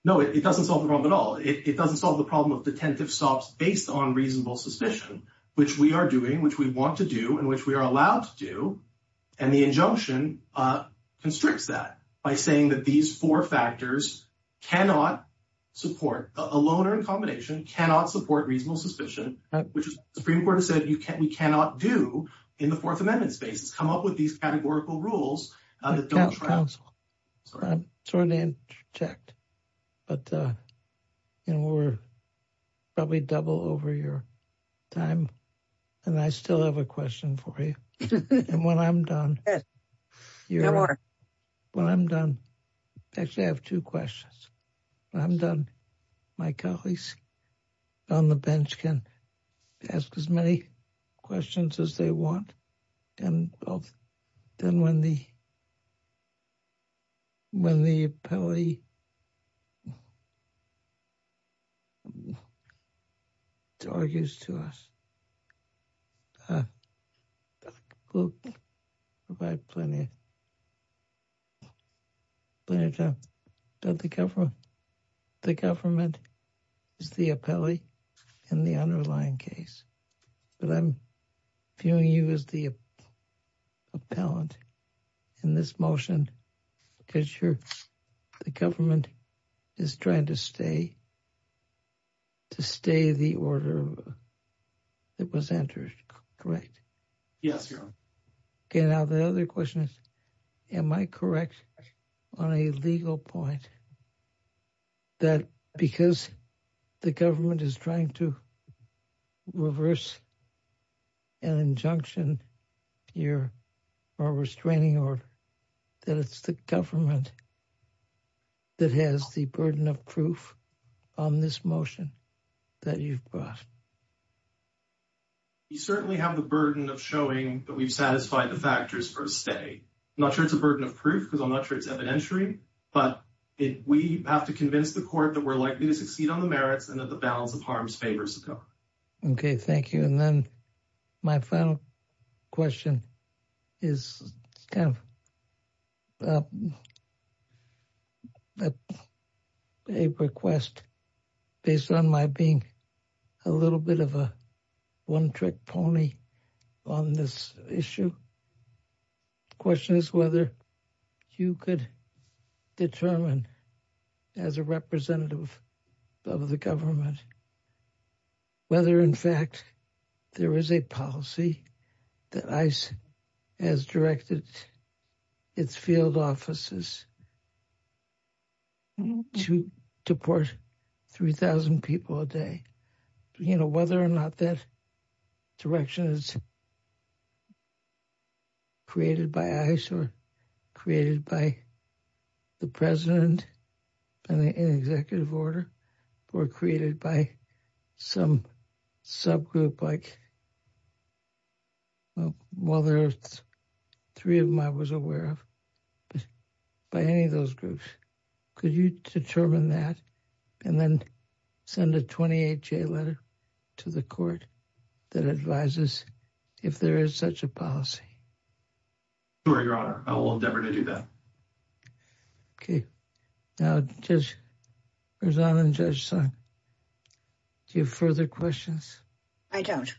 No, it doesn't solve the problem at all. It doesn't solve the problem of detentive SOFs based on reasonable suspicion, which we are doing, which we want to do, and which we are allowed to do. And the injunction constricts that by saying that these four factors cannot support... A loaner in combination cannot support reasonable suspicion, which the Supreme Court said we cannot do in the Fourth Amendment space. It's come up with these categorical rules. I'm sorry to interject, but we're probably double over your time. And I still have a question for you. And when I'm done... Yes, go ahead. When I'm done, I actually have two questions. When I'm done, my colleagues on the bench can ask as many questions as they want. And then when the appellee argues to us, we'll provide plenty of time. But the government is the appellee in the underlying case. But I'm viewing you as the appellant in this motion because the government is trying to stay the order that was entered, correct? Yes, Your Honor. Okay. Now the other question is, am I correct on a legal point that because the government is trying to reverse an injunction or restraining order, that it's the government that has the burden of proof on this motion that you've brought? We certainly have the burden of showing that we've satisfied the factors per se. I'm not sure it's a burden of proof because I'm not sure it's evidentiary. But we have to convince the court that we're likely to succeed on the merits and the balance of harm's favors. Okay. Thank you. And then my final question is, a request based on my being a little bit of a one-trick pony on this issue, the question is whether you could determine as a representative of the government, whether in fact there is a policy that ICE has directed its field offices to deport 3,000 people a day. Whether or not that direction is created by ICE or created by the president and the executive order or created by some subgroup like, well, there's three of them I was aware of, but any of those groups, could you determine that and then send a 28-J letter to the court that advises if there is such a policy? Sure, Your Honor. I will endeavor to do that. Okay. Now, Judge Rosado and Judge Sun, do you have further questions? I don't.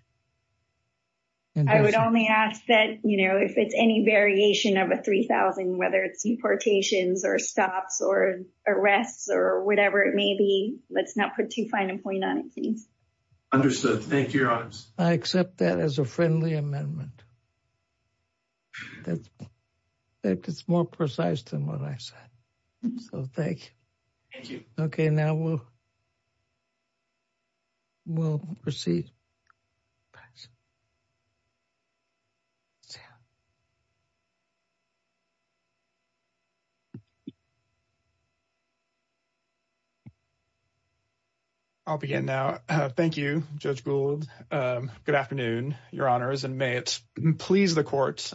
I would only ask that, you know, if it's any variation of a 3,000, whether it's deportations or stops or arrests or whatever it may be, let's not put too fine a point on it. Understood. Thank you, Your Honors. I accept that as a friendly amendment. That's more precise than what I said. So, thank you. Okay. Now, we'll proceed. I'll begin now. Thank you, Judge Gould. Good afternoon, Your Honors, and may it please the court,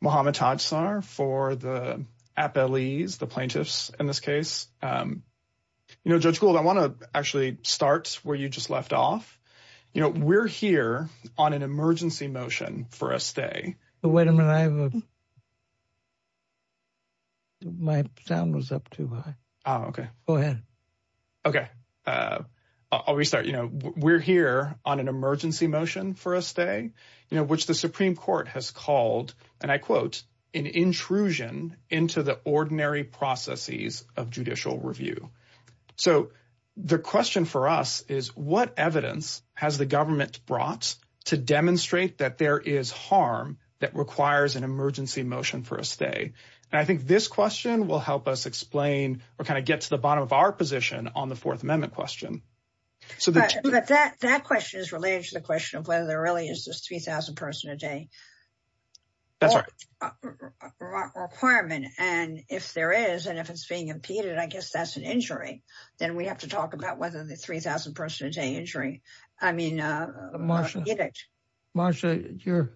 Muhammad Tadsar for the appellees, the plaintiffs in this case. You know, Judge Gould, I want to actually start where you just left off. You know, we're here on an emergency motion for a stay. Wait a minute. My sound was up too high. Okay. Go ahead. Okay. I'll restart. You know, we're here on an emergency motion for a stay, you know, which the Supreme Court has called, and I quote, an intrusion into the ordinary processes of judicial review. So, the question for us is, what evidence has the government brought to demonstrate that there is harm that requires an emergency motion for a stay? And I think this question will help us explain or kind of get to the bottom of our position on the Fourth Amendment question. But that question is related to the question of whether there really is a 3,000-person-a-day requirement. And if there is, and if it's being impeded, I guess that's an injury. Then we have to talk about whether the 3,000-person-a-day injury, I mean, is an injury. Marsha, your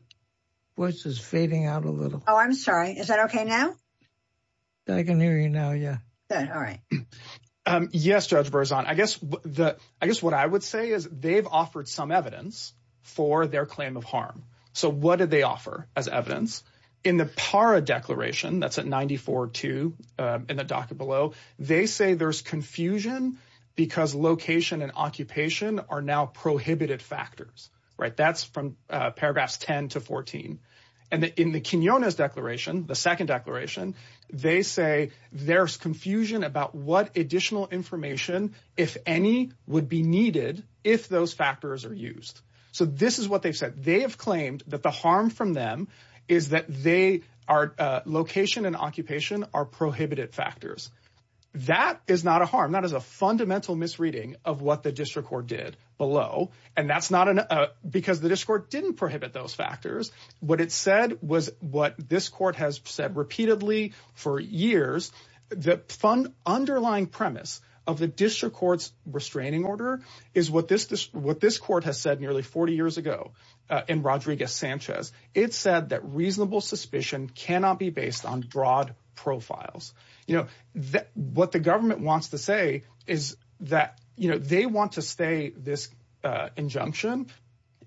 voice is fading out a little. Oh, I'm sorry. Is that okay now? I can hear you now, yeah. All right. Yes, Judge Berzon. I guess what I would say is they've offered some evidence for their claim of harm. So, what did they offer as evidence? In the PARA declaration, that's at 94.2 in the docket below, they say there's confusion because location and occupation are now prohibited factors, right? That's from paragraphs 10 to 14. And in the Quinones declaration, the second about what additional information, if any, would be needed if those factors are used. So, this is what they said. They have claimed that the harm from them is that location and occupation are prohibited factors. That is not a harm. That is a fundamental misreading of what the district court did below. And that's because the district court didn't prohibit those factors. What it said was what this court has said repeatedly for years. The underlying premise of the district court's restraining order is what this court has said nearly 40 years ago in Rodriguez-Sanchez. It said that reasonable suspicion cannot be based on broad profiles. What the government wants to say is that they want to stay this injunction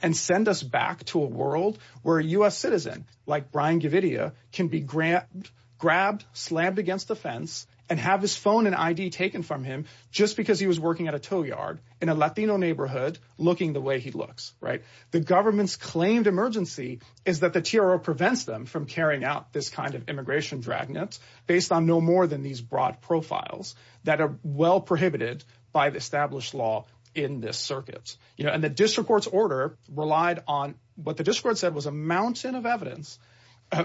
and send us back to a world where a US citizen like Brian Gavidia can be grabbed, slammed against the fence, and have his phone and ID taken from him just because he was working at a tow yard in a Latino neighborhood looking the way he looks, right? The government's claimed emergency is that the TRO prevents them from carrying out this kind of immigration dragnet based on no more than these broad profiles that are well prohibited by the established law in this circuit. And the district court's order relied on what the district court said was a mountain of evidence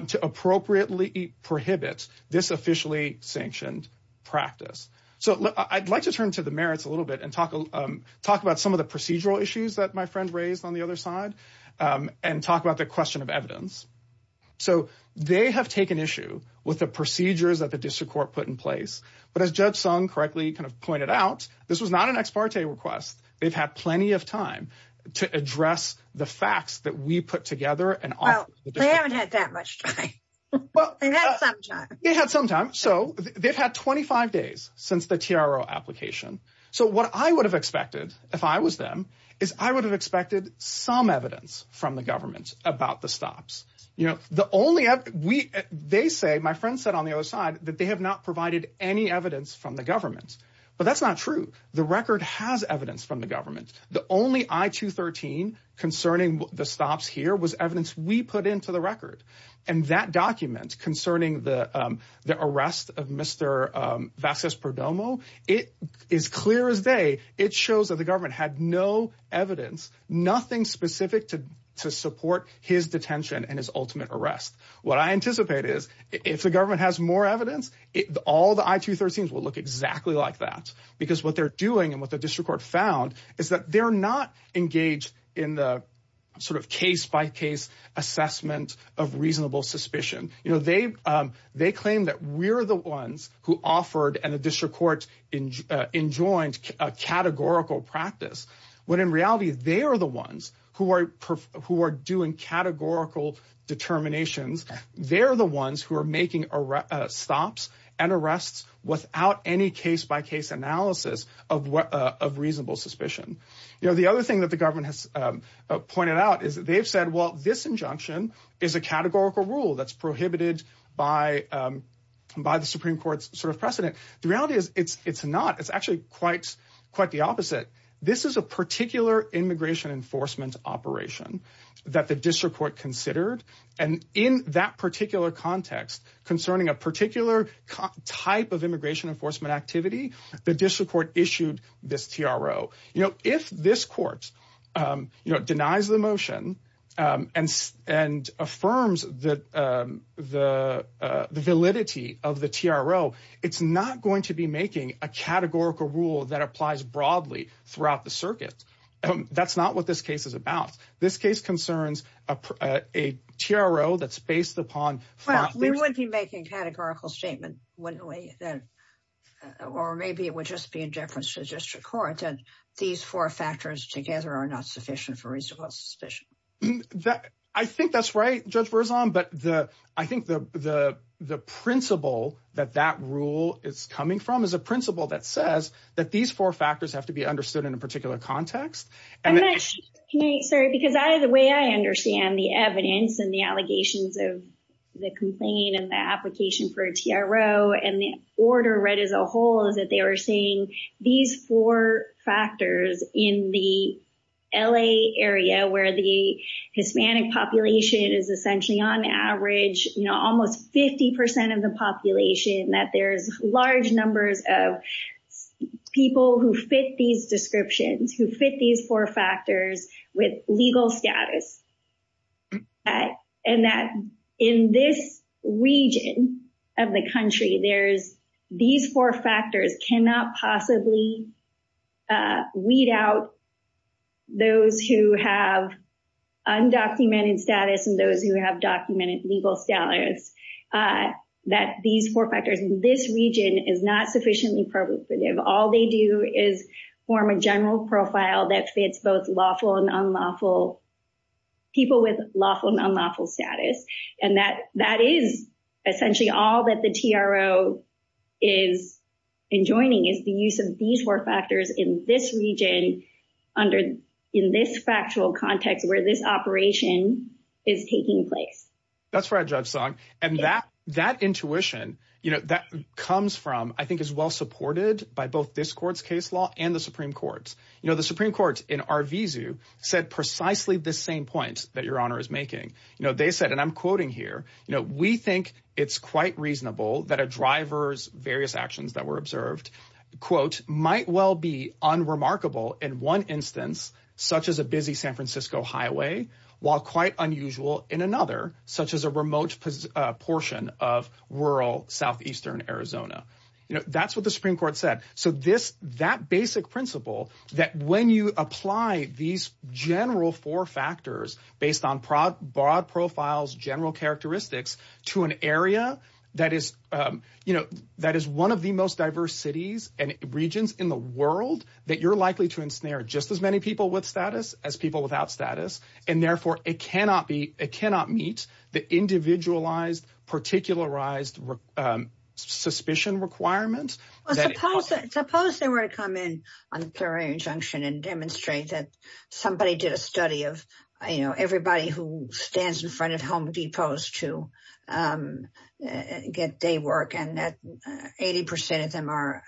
to appropriately prohibit this officially sanctioned practice. So I'd like to turn to the merits a little bit and talk about some of the procedural issues that my friend raised on the other side and talk about the question of evidence. So they have taken issue with the procedures that the district court put in place. But as Judge Sung correctly kind of pointed out, this was not an FARTE request. They've had plenty of time to address the facts that we put together. Oh, they haven't had that much time. They have some time. They have some time. So they've had 25 days since the TRO application. So what I would have expected if I was them is I would have expected some evidence from the government about the stops. They say, my friend said on the other side, that they have not provided any evidence from the government. But that's not true. The record has evidence from the government. The only I-213 concerning the stops here was evidence we put into the record. And that document concerning the arrest of Mr. Vasquez-Perdomo, it is clear as day, it shows that the government had no evidence, nothing specific to support his detention and his ultimate arrest. What I anticipate is if the government has more evidence, all the I-213s will look exactly like that. Because what they're doing and what the district court found is that they're not engaged in the sort of case-by-case assessment of reasonable suspicion. They claim that we're the ones who offered and the district court enjoined a categorical practice, when in reality, they are the ones who are doing categorical determinations. They're the ones who are making stops and arrests without any case-by-case analysis of reasonable suspicion. The other thing that the government has pointed out is they've said, well, this injunction is a categorical rule that's prohibited by the Supreme Court's sort of precedent. The reality is it's not. It's quite the opposite. This is a particular immigration enforcement operation that the district court considered. And in that particular context concerning a particular type of immigration enforcement activity, the district court issued this TRO. If this court denies the motion and affirms the validity of the TRO, it's not going to be making a categorical rule that applies broadly throughout the circuit. That's not what this case is about. This case concerns a TRO that's based upon- Well, we wouldn't be making categorical statements, wouldn't we? Or maybe it would just be in deference to the district court that these four factors together are not sufficient for reasonable suspicion. I think that's right, Judge Berzelon. But I think the principle that that rule is coming from is a principle that says that these four factors have to be understood in a particular context. Can I, sorry, because the way I understand the evidence and the allegations of the complaint and the application for a TRO and the order read as a whole is that they are saying these four factors in the LA area where the Hispanic population is essentially on average almost 50% of the population, that there's large numbers of people who fit these descriptions, who fit these four factors with legal status, and that in this region of the country, there's- These four factors cannot possibly weed out those who have undocumented status and those who have documented legal status. That these four factors in this region is not sufficiently pervasive. All they do is form a general profile that fits both lawful and unlawful- people with lawful and unlawful status. And that is essentially all that the TRO is enjoining is the use of these four factors in this region under- in this factual context where this operation is taking place. That's right, Judge Stock. And that intuition, you know, that comes from, I think is well supported by both this court's case law and the Supreme Court. You know, the Supreme Court in Arvizu said precisely the same point that Your Honor is making. You know, they said, and I'm quoting here, you know, we think it's quite reasonable that a driver's various actions that were observed, quote, might well be unremarkable in one instance, such as a busy San Francisco highway, while quite unusual in another, such as a remote portion of rural southeastern Arizona. You know, that's what the Supreme Court said. So this, that basic principle that when you apply these general four factors based on broad profiles, general characteristics to an area that is, you know, that is one of the most diverse cities and regions in the world that you're likely to ensnare just as many people with status as people without status. And therefore it cannot be, it cannot meet the individualized, particularized suspicion requirements. Suppose they were to come in on a plural injunction and demonstrate that somebody did a study of, you know, everybody who stands in front of home depots to get day work and that 80% of them are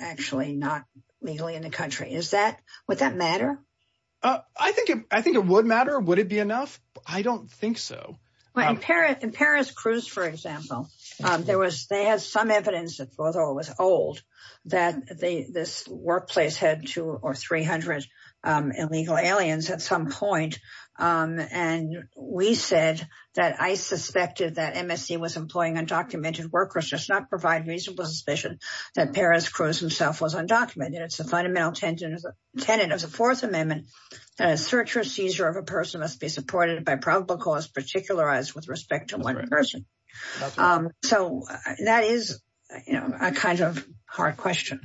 actually not legally in the country. Is that, would that I don't think so. But in Paris, in Paris cruise, for example, there was, they had some evidence although it was old that they, this workplace had two or 300 illegal aliens at some point. And we said that I suspected that MSC was employing undocumented workers, just not provide reasonable suspicion that Paris cruise himself was undocumented. It's probable cause particularized with respect to one person. So that is a kind of hard question.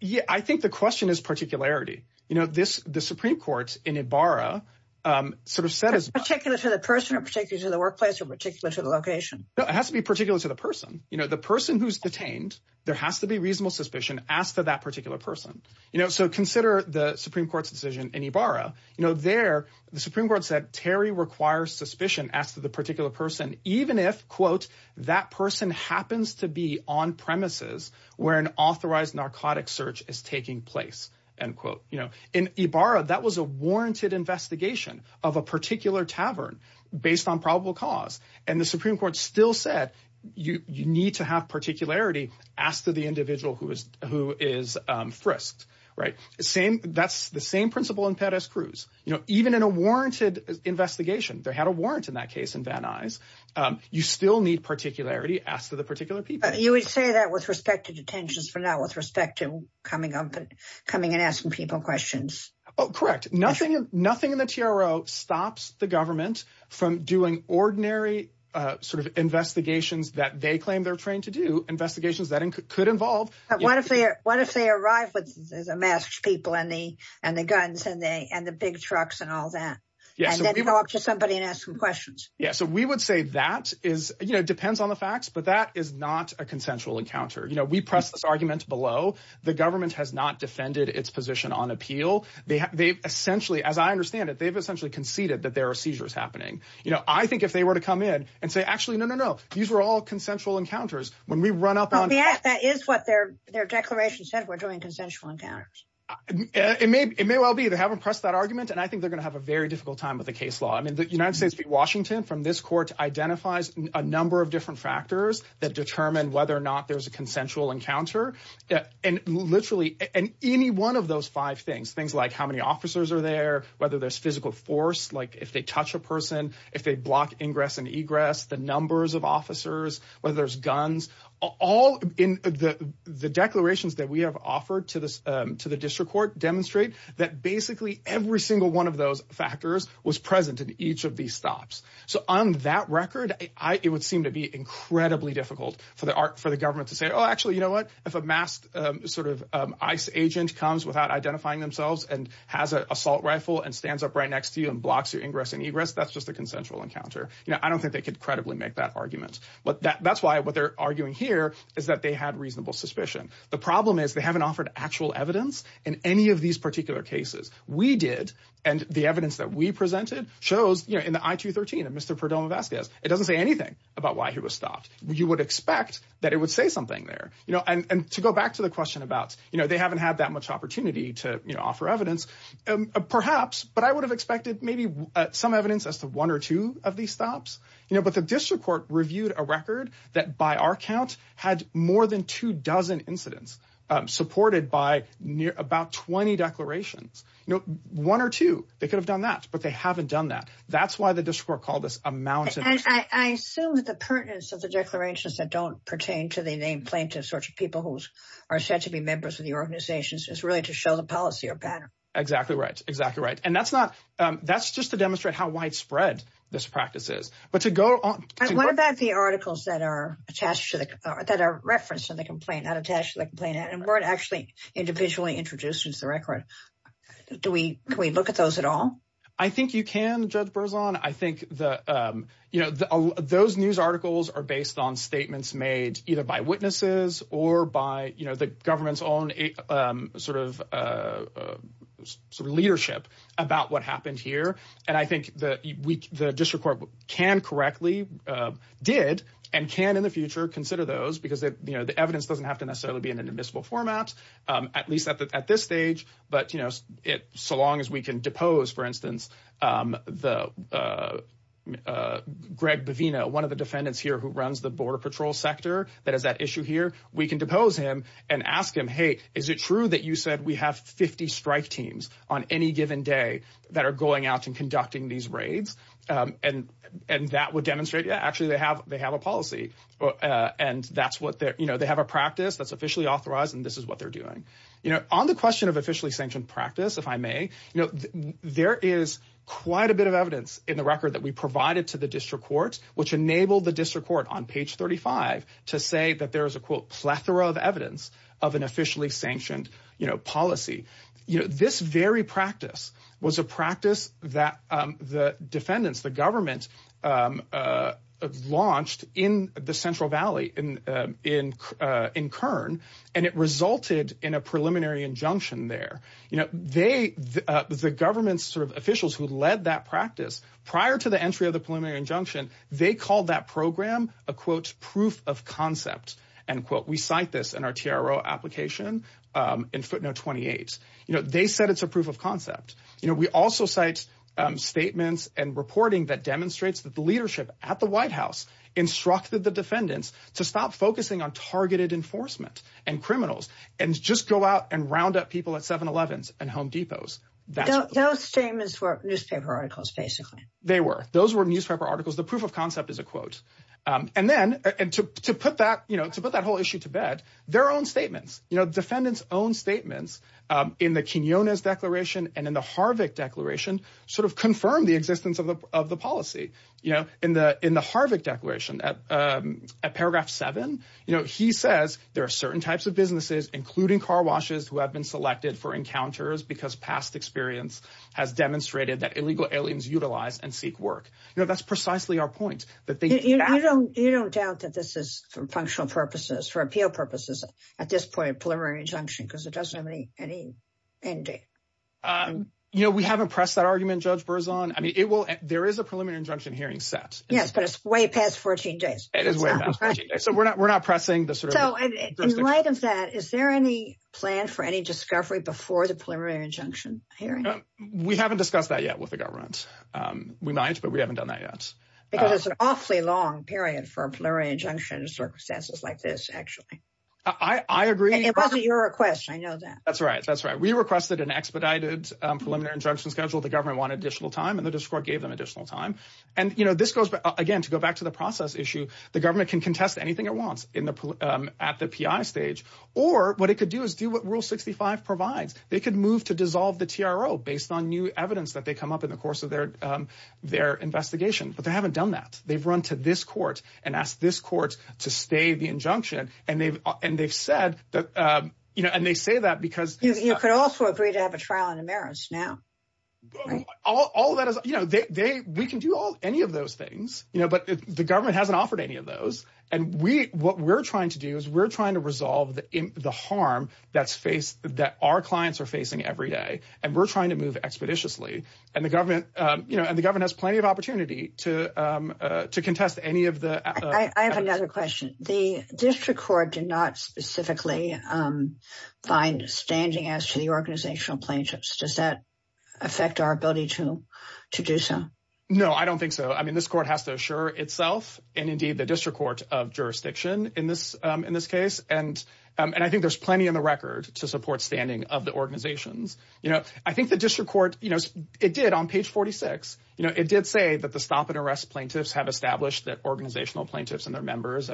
Yeah. I think the question is particularity, you know, this, the Supreme court in Ibarra sort of set as particular to the person or particular to the workplace or particular to the location. It has to be particular to the person, you know, the person who's detained, there has to be reasonable suspicion asked for that particular person. You know, so consider the Supreme court's decision in Ibarra, you know, there the Supreme court said, Terry requires suspicion as to the particular person, even if quote, that person happens to be on premises where an authorized narcotic search is taking place and quote, you know, in Ibarra, that was a warranted investigation of a particular tavern based on probable cause. And the Supreme court still said, you need to have particularity as to the individual who is, who is frisked, right? Same, that's the same principle in Paris cruise, you know, even in a warranted investigation, there had a warrant in that case in that eyes, you still need particularity asked for the particular people. You would say that with respect to detentions for now, with respect to coming up and coming and asking people questions. Oh, correct. Nothing, nothing in the TRO stops the government from doing ordinary sort of investigations that they claim they're trained to do investigations could involve. I want to say, I want to say arrive with the mask people and the, and the guns and the, and the big trucks and all that. And then talk to somebody and ask some questions. Yeah. So we would say that is, you know, it depends on the facts, but that is not a consensual encounter. You know, we press this argument below the government has not defended its position on appeal. They they've essentially, as I understand it, they've essentially conceded that there are seizures happening. You know, I think if they were to come in and say, actually, these were all consensual encounters when we run up on that is what their, their declaration says, we're doing consensual encounters. It may, it may well be that I haven't pressed that argument. And I think they're going to have a very difficult time with the case law. I mean, the United States, Washington from this court identifies a number of different factors that determine whether or not there's a consensual encounter that, and literally any one of those five things, things like how many officers are there, whether there's physical force, like if they touch a person, if they block ingress and egress, the numbers of officers, whether there's guns, all in the declarations that we have offered to the, to the district court demonstrate that basically every single one of those factors was present at each of these stops. So on that record, I, it would seem to be incredibly difficult for the art, for the government to say, Oh, actually, you know what, if a masked sort of ICE agent comes without identifying themselves and has an assault rifle and stands up right next to you and blocks your ingress and egress, that's just a consensual encounter. Now, I don't think they could credibly make that argument, but that that's why what they're arguing here is that they had reasonable suspicion. The problem is they haven't offered actual evidence in any of these particular cases we did. And the evidence that we presented shows, you know, in the ITU 13 and Mr. Perdomo Vasquez, it doesn't say anything about why he was stopped. You would expect that it would say something there, you know, and to go back to the question about, you know, they haven't had that opportunity to, you know, offer evidence perhaps, but I would have expected maybe some evidence as to one or two of these stops, you know, but the district court reviewed a record that by our counts had more than two dozen incidents supported by near about 20 declarations, you know, one or two, they could have done that, but they haven't done that. That's why the district court called this a mountain. I feel that the pertinence of the declarations that don't pertain to the people who are said to be members of the organizations is really to show the policy or pattern. Exactly right. Exactly right. And that's not, that's just to demonstrate how widespread this practice is, but to go on. What about the articles that are attached to the, that are referenced in the complaint and attached to the complaint and weren't actually individually introduced into the record? Do we, can we look at those at all? I think you can, Judge Berzon. I think the, you know, those news articles are based on statements made either by witnesses or by, you know, the government's own sort of leadership about what happened here. And I think the district court can correctly did and can in the future consider those because you know, the evidence doesn't have to necessarily be in an admissible format, at least at this stage, but you know, so long as we can depose, for instance, the uh, uh, Greg Bavino, one of the defendants here who runs the border patrol sector that has that issue here, we can depose him and ask him, Hey, is it true that you said we have 50 strike teams on any given day that are going out and conducting these raids? Um, and, and that would demonstrate, yeah, actually they have, they have a policy, uh, and that's what they're, you know, they have a practice that's officially authorized and this is what they're doing. You know, on the question of officially sanctioned practice, if I may, you know, there is quite a bit of evidence in the record that we provided to the district courts, which enabled the district court on page 35 to say that there is a quote, plethora of evidence of an officially sanctioned policy. You know, this very practice was a practice that, um, the defendants, the government, um, uh, launched in the central Valley in, uh, in, uh, in Kern and it resulted in a preliminary injunction there. You know, they, uh, the government's sort of officials who led that practice prior to the entry of the preliminary injunction, they called that program a quote, proof of concept and quote, we cite this in our TRO application, um, in footnote 28, you know, they said it's a proof of concept. You know, we also cite, um, statements and reporting that demonstrates that the leadership at the white house instructed the defendants to stop focusing on targeted enforcement and criminals, and just go out and round up people at seven 11th and home depots. Those statements were newspaper articles, basically. They were, those were newspaper articles. The proof of concept is a quote. Um, and then, and to, to put that, you know, to put that whole issue to bed, their own statements, you know, defendants own statements, um, in the Kenyon declaration and in the Harvick declaration sort of confirmed the existence of the, of the policy, you know, in the, in the Harvick declaration at, um, at paragraph seven, you know, he says there are certain types of businesses, including car washes who have been selected for encounters because past experience has demonstrated that illegal aliens utilize and seek work. You know, that's precisely our point. You don't doubt that this is for functional purposes for appeal purposes at this point of preliminary injunction, because it doesn't have any, any ending. Um, you know, we haven't pressed that argument judge Burzon. I mean, it will, there is a preliminary injunction hearing sets. Yes, but it's way past 14 days. So we're not, we're not pressing the sort of that. Is there any plan for any discovery before the preliminary injunction hearing? We haven't discussed that yet with the government. Um, we managed, but we haven't done that yet. Because it's an awfully long period for a plural injunction successes like this. Actually, I agree. It wasn't your request. I know that. That's right. That's right. We requested an expedited, um, preliminary injunction schedule. The government wanted additional time and the district gave them additional time. And, you know, this goes back again, to go back to the process issue, the government can contest anything it wants in the, um, at the PI stage, or what it could do is do what rule 65 provides. They could move to dissolve the TRO based on new evidence that they come up in the course of their, um, their investigations, but they haven't done that. They've run to this court and ask this court to stay the injunction. And they've, and they've said that, um, you know, and they say that because you could also agree to have a trial in the marriage now. All of that is, you know, they, they, we can do all any of those things, you know, but the government hasn't offered any of those. And we, what we're trying to do is we're trying to resolve the harm that's faced that our clients are facing every day. And we're trying to move expeditiously and the government, um, you know, and the government has plenty of opportunity to, um, uh, to contest any of the, I have another question. The district court did not specifically, um, find standing as to the organizational plaintiffs. Does that affect our ability to, to do some? No, I don't think so. I mean, this court has to assure itself and indeed the district court of jurisdiction in this, um, in this case. And, um, and I think there's plenty in the record to support standing of the organizations. You know, I think the district court, you know, it did on page 46, you know, it did say that the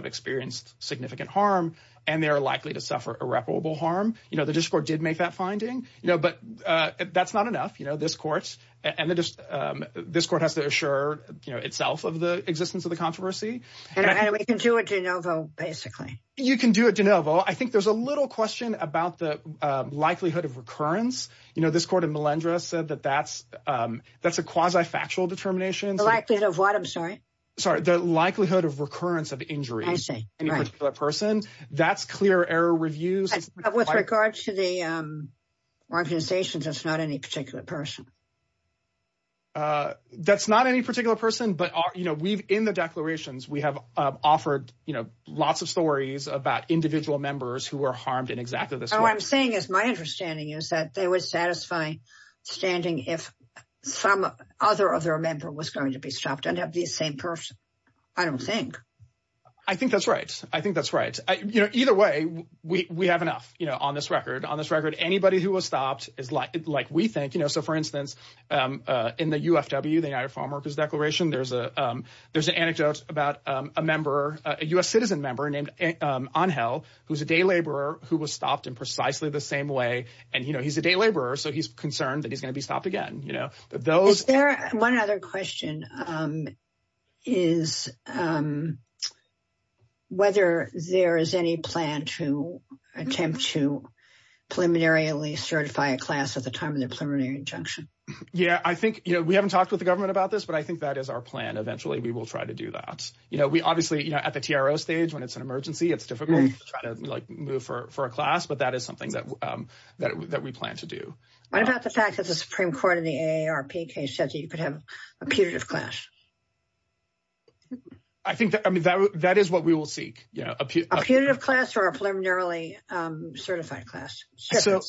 experienced significant harm and they're likely to suffer irreparable harm. You know, the district court did make that finding, you know, but, uh, that's not enough, you know, this courts and the, um, this court has to assure itself of the existence of the controversy. And we can do it, you know, basically you can do it, you know, I think there's a little question about the, um, likelihood of recurrence. You know, this court in Melendrez said that that's, um, that's a quasi factual determination, the likelihood of what I'm sorry, sorry, the likelihood of recurrence of injuries. That's clear error reviews with regards to the, um, organizations. That's not any particular person. Uh, that's not any particular person, but, uh, you know, we've in the declarations, we have, uh, offered, you know, lots of stories about individual members who are harmed in exactly the same thing as my understanding is that they would satisfy standing. If some other, what's going to be stopped and have the same person. I don't think. I think that's right. I think that's right. I, you know, either way we, we have enough, you know, on this record, on this record, anybody who was stopped is like, like we think, you know, so for instance, um, uh, in the UFW, the eye farmer of his declaration, there's a, um, there's an anecdote about, um, a member, a U S citizen member named, um, on hell who's a day laborer who was stopped in precisely the same way. And, you know, he's a day laborer. So he's concerned that he's going to be stopped again. You know, those, one other question, um, is, um, whether there is any plan to attempt to preliminary certified class at the time of the preliminary injunction. Yeah, I think, you know, we haven't talked with the government about this, but I think that is our plan. Eventually we will try to do that. You know, we obviously, you know, at the TRO stage when it's an emergency, it's difficult to try to like move for a class, but that is something that, um, that, that we plan to do. What about the fact that the Supreme court in the AARP case said that you could have a punitive class? I think that, I mean, that w that is what we will see. Yeah. A punitive class or a preliminarily, um, certified class. So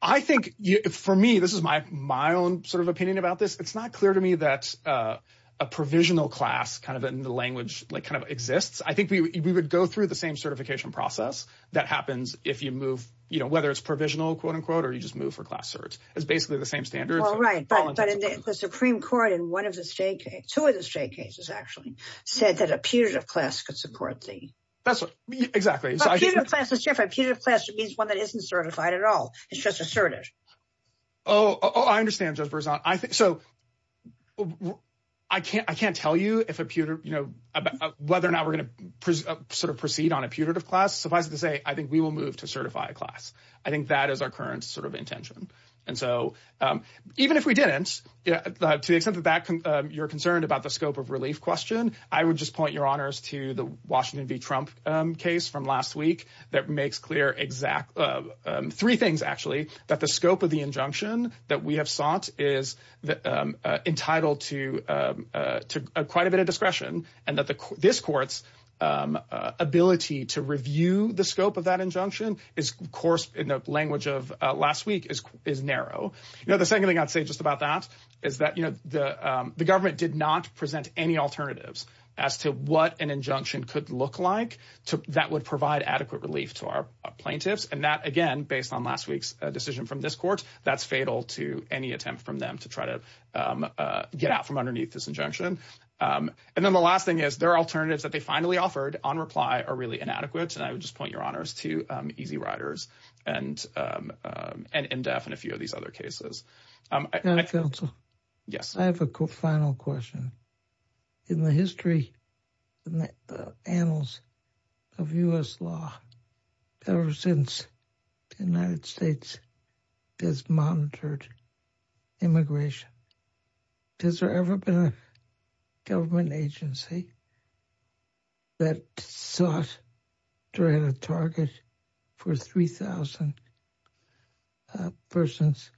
I think for me, this is my, my own sort of opinion about this. It's not clear to me that, uh, a provisional class kind of in the language like kind of exists. I think we would, we would go through the same certification process that happens if you move, you know, whether it's provisional quote unquote, or you just move for class search. It's basically the same standard. All right. But the Supreme court in one of the state, two of the state cases actually said that a punitive class could support the. That's what exactly. A punitive class means one that isn't certified at all. It's just asserted. Oh, I understand. So I think, so I can't, I can't tell you if a punitive, you know, whether or not we're going to sort of proceed on a punitive class. So if I could say, I think we will move to certify a class. I think that is our current sort of intention. And so, um, even if we didn't, uh, to the extent that that, um, you're concerned about the scope of relief question, I would just point your honors to the Washington V Trump, um, case from last week that makes clear exact, um, um, three things actually that the scope of the injunction that we is, um, uh, entitled to, um, uh, to, uh, quite a bit of discretion and that the discourse, um, uh, ability to review the scope of that injunction is of course in the language of, uh, last week is, is narrow. You know, the second thing I'd say just about that is that, you know, the, um, the government did not present any alternatives as to what an injunction could look like to that would provide adequate relief to our plaintiffs. And that, again, based on last week's decision from this court, that's fatal to any attempt from them to try to, um, uh, get out from underneath this injunction. Um, and then the last thing is their alternatives that they finally offered on reply are really inadequate. And I would just point your honors to, um, easy riders and, um, um, and in-depth and a few of these other cases. Yes, I have a final question in the history and the annals of us law ever since the United States has monitored immigration. Has there ever been a government agency that saw us during the target for 3000 Uh, persons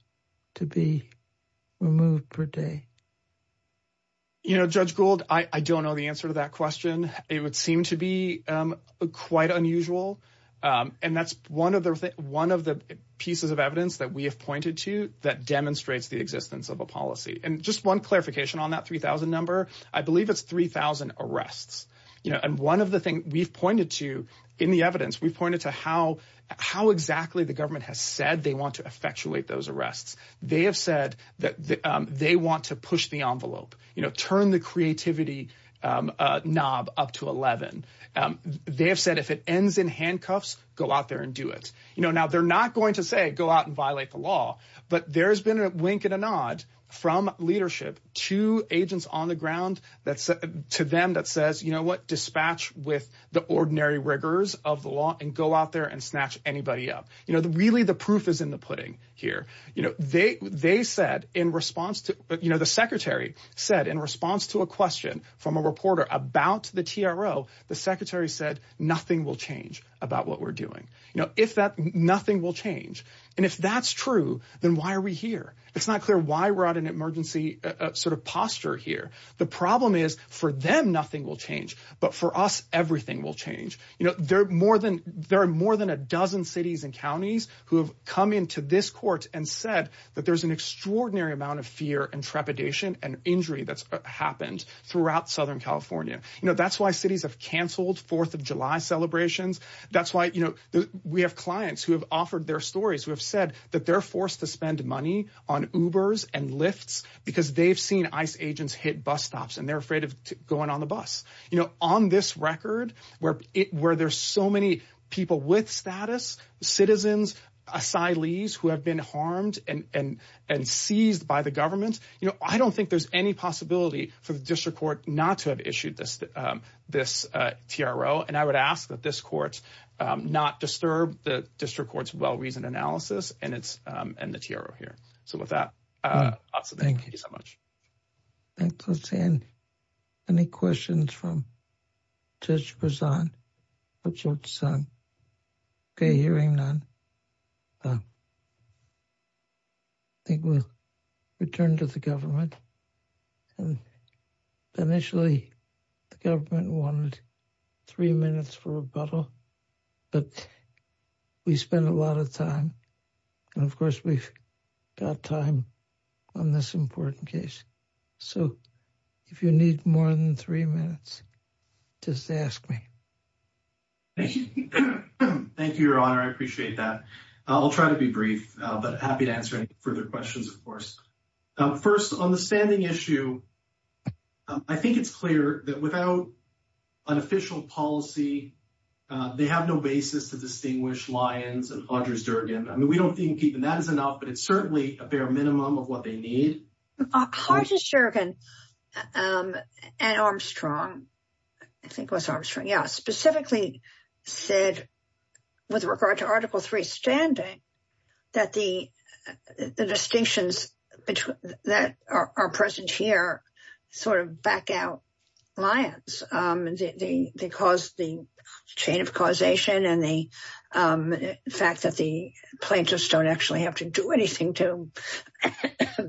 to be removed per day, you know, judge Gould, I don't know the answer to that question. It would seem to be, um, quite unusual. Um, and that's one of the, one of the pieces of evidence that we have pointed to that demonstrates the existence of a policy. And just one clarification on that 3000 number, I believe it's 3000 arrests, you know, and one of the things we've pointed to in the evidence, we pointed to how exactly the government has said they want to effectuate those arrests. They have said that, um, they want to push the envelope, you know, turn the creativity, um, uh, knob up to 11. Um, they have said, if it ends in handcuffs, go out there and do it. You know, now they're not going to say, go out and violate the law, but there's been a wink and a nod from leadership to agents on the ground. That's to them that says, you know what, dispatch with the ordinary rigors of the law and go out there and snatch anybody up. You know, the, really the proof is in the pudding here. You know, they, they said in response to, you know, the secretary said in response to a question from a reporter about the TRO, the secretary said, nothing will change about what we're doing. You know, if that nothing will change. And if that's true, then why are we here? It's not clear why we're at an emergency sort of posture here. The problem is for them, nothing will change, but for us, everything will change. You know, there are more than, there are more than a dozen cities and counties who have come into this court and said that there's an extraordinary amount of fear and trepidation and injury that's happened throughout Southern California. You know, that's why cities have canceled 4th of July celebrations. That's why, you know, we have clients who have offered their stories, who have said that they're forced to spend money on Ubers and lifts because they've seen ICE agents hit bus stops and they're afraid of going on the bus, you know, on this record where it, where there's so many people with status, citizens, asylees who have been harmed and, and, and seized by the government. You know, I don't think there's any possibility for the district court not to have issued this, this TRO. And I would ask that this court not disturb the district court's well-reasoned analysis and it's, and the TRO here. So with that, thank you so much. Thank you. Let's see, any questions from Judge Prezan, Judge Prezan? Okay, hearing none, I think we'll return to the government. Initially, the government wanted three minutes for rebuttal, but we spent a lot of time and of course we've got time on this important case. So if you need more than three minutes, just ask me. Thank you. Thank you, Your Honor. I appreciate that. I'll try to be brief, but happy to answer any further questions, of course. First on the issue, I think it's clear that without an official policy, they have no basis to distinguish Lyons and Armstrong. I mean, we don't think that is enough, but it's certainly a bare minimum of what they need. Armstrong, I think was Armstrong. Yeah. Specifically said with regard to Article 3 standing, that the distinctions that are present here sort of back out Lyons. They cause the chain of causation and the fact that the plaintiffs don't actually have to do anything to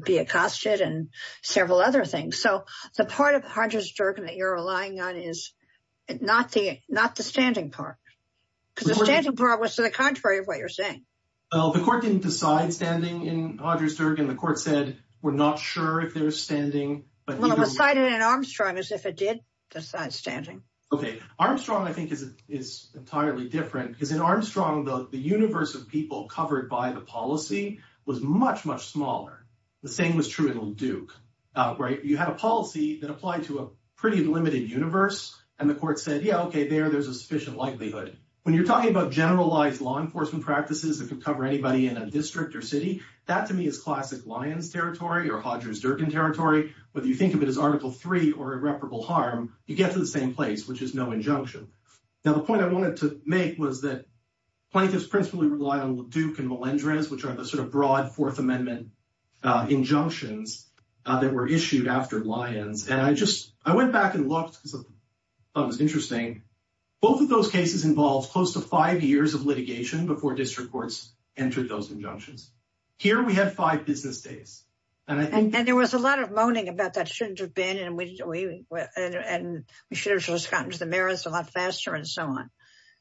be accosted and several other things. So the part of Hodges-Durbin that you're relying on is not the standing part. Because the standing part was to the contrary of what you're saying. Well, the court didn't decide standing in Hodges-Durbin. The court said, we're not sure if there's standing. Well, it decided in Armstrong as if it did decide standing. Okay. Armstrong, I think, is entirely different because in Armstrong, the universe of people covered by the policy was much, much smaller. The same was true in old Duke, right? You had a policy that applied to a pretty limited universe and the court said, yeah, okay, there, there's a sufficient likelihood. When you're talking about generalized law enforcement practices that can cover anybody in a district or city, that to me is classic Lyons territory or Hodges-Durbin territory. Whether you think of it as Article 3 or irreparable harm, you get to the same place, which is no injunction. Now, the point I wanted to make was that plaintiffs principally rely on Duke and Melendrez, which are the sort of broad Fourth Amendment injunctions that were issued after Lyons. And I just, I went back and looked because I thought it was interesting. Both of those cases involved close to five years of litigation before district courts entered those injunctions. Here, we had five business days. And there was a lot of moaning about that shouldn't have been, and we should have gotten to the merits a lot faster and so on.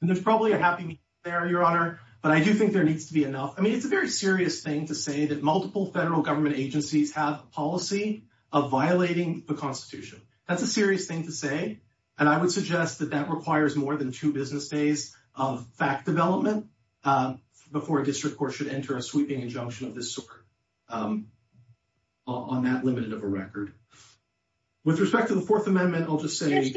And there's probably a happy meeting there, Your Honor, but I do think there needs to be enough. I mean, it's a very serious thing to say that multiple federal government agencies have a policy of violating the Constitution. That's a serious thing to say. And I would suggest that that requires more than two business days of fact development before a district court should enter a sweeping injunction of this sort on that limited of a record. With respect to the Fourth Amendment, I'll just say- There is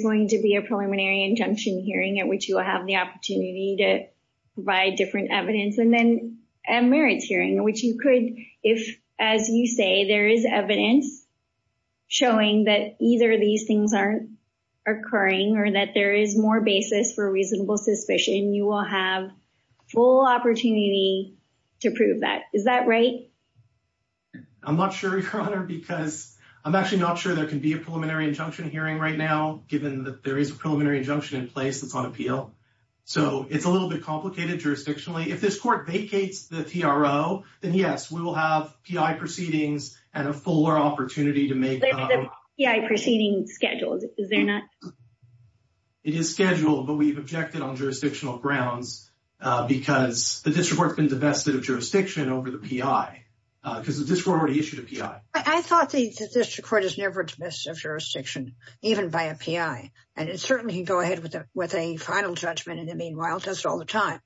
going to be a preliminary injunction hearing at which you will have the opportunity to provide different evidence. And then a merits hearing, which you could, if, as you say, there is evidence showing that either of these things are occurring or that there is more basis for reasonable suspicion, you will have full opportunity to prove that. Is that right? I'm not sure, Your Honor, because I'm actually not sure there can be a preliminary injunction hearing right now, given that there is a preliminary injunction in place that's on appeal. So it's a little bit complicated jurisdictionally. If this court vacates the PRO, then yes, we will have PI proceedings and a fuller opportunity to make- There's a PI proceeding scheduled, is there not? It is scheduled, but we've objected on jurisdictional grounds because the district court's been divested of jurisdiction over the PI, because the district court already issued a PI. I thought the district court has never divested of jurisdiction, even by a PI, and it certainly can go ahead with a final judgment, and it meanwhile does it all the time.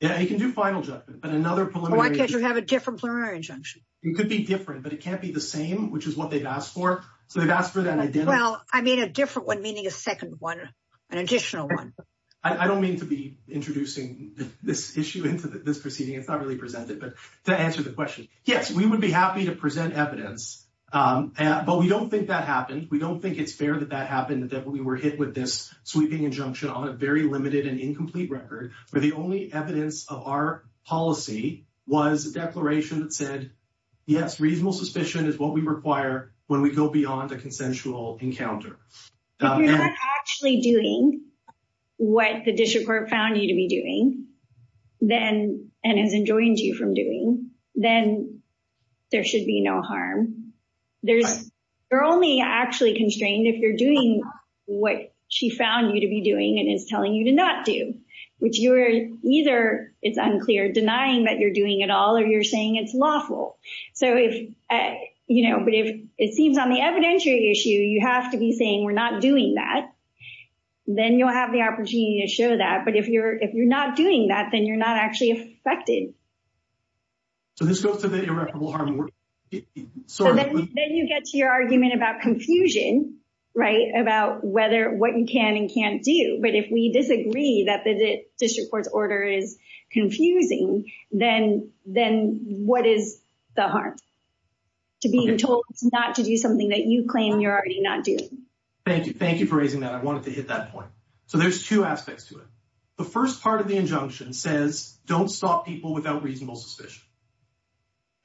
Yeah, you can do final judgment, but another preliminary- Or because you have a different preliminary injunction. It could be different, but it can't be the same, which is what they've asked for. So they've asked for an identical- Well, I mean a different one, meaning a second one, an additional one. I don't mean to be introducing this issue into this proceeding. It's not really presented, to answer the question. Yes, we would be happy to present evidence, but we don't think that happened. We don't think it's fair that that happened, that we were hit with this sweeping injunction on a very limited and incomplete record, where the only evidence of our policy was a declaration that said, yes, reasonable suspicion is what we require when we go beyond a consensual encounter. But we're not actually doing what the district court found you to be doing, then, and has enjoined you from doing, then there should be no harm. You're only actually constrained if you're doing what she found you to be doing, and is telling you to not do, which you're either, it's unclear, denying that you're doing it all, or you're saying it's lawful. So if, you know, but if it seems on the evidentiary issue, you have to be saying we're not doing that, then you'll have the opportunity to show that. If you're not doing that, then you're not actually affected. So this goes to the irreparable harm. Then you get to your argument about confusion, right, about whether, what you can and can't do. But if we disagree that the district court's order is confusing, then what is the harm? To be told not to do something that you claim you're already not doing. Thank you. Thank you for raising that. I wanted to hit that point. So there's two aspects to it. The first part of the injunction says don't stop people without reasonable suspicion.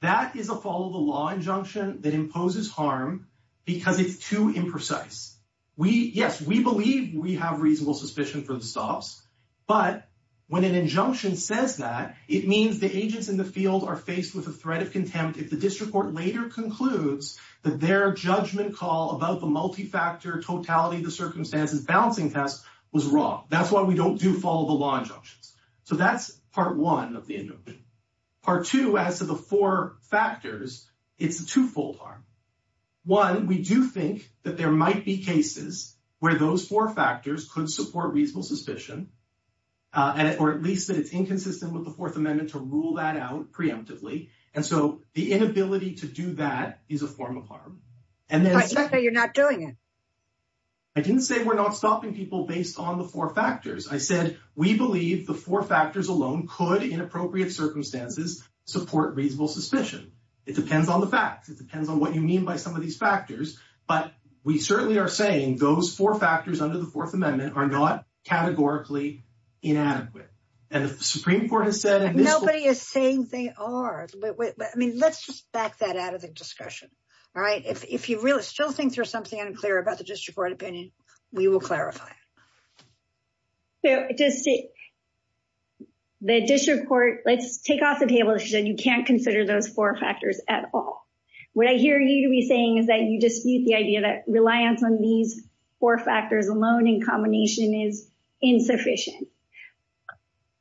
That is a follow-the-law injunction that imposes harm because it's too imprecise. Yes, we believe we have reasonable suspicion for the stops, but when an injunction says that, it means the agents in the field are faced with a threat of contempt if the district court later concludes that their judgment call about the multifactor, totality of the circumstances, balancing test was wrong. That's why we don't do follow-the-law injunctions. So that's part one of the injunction. Part two adds to the four factors. It's a twofold harm. One, we do think that there might be cases where those four factors could support reasonable suspicion, or at least that it's inconsistent with the Fourth Amendment to rule that out preemptively. And so the inability to do that is a form of harm. But you're not doing it. I didn't say we're not stopping people based on the four factors. I said we believe the four factors alone could, in appropriate circumstances, support reasonable suspicion. It depends on the facts. It depends on what you mean by some of these factors. But we certainly are saying those four factors under the Fourth Amendment are not categorically inadequate. And the Supreme Court has said— Nobody is saying they are. I mean, let's just back that out of the discussion. All right? If you really still think there's something unclear about the district court opinion, we will clarify. The district court—let's take off the table and say you can't consider those four factors at all. What I hear you to be saying is that you just use the idea that reliance on these four factors alone in combination is insufficient.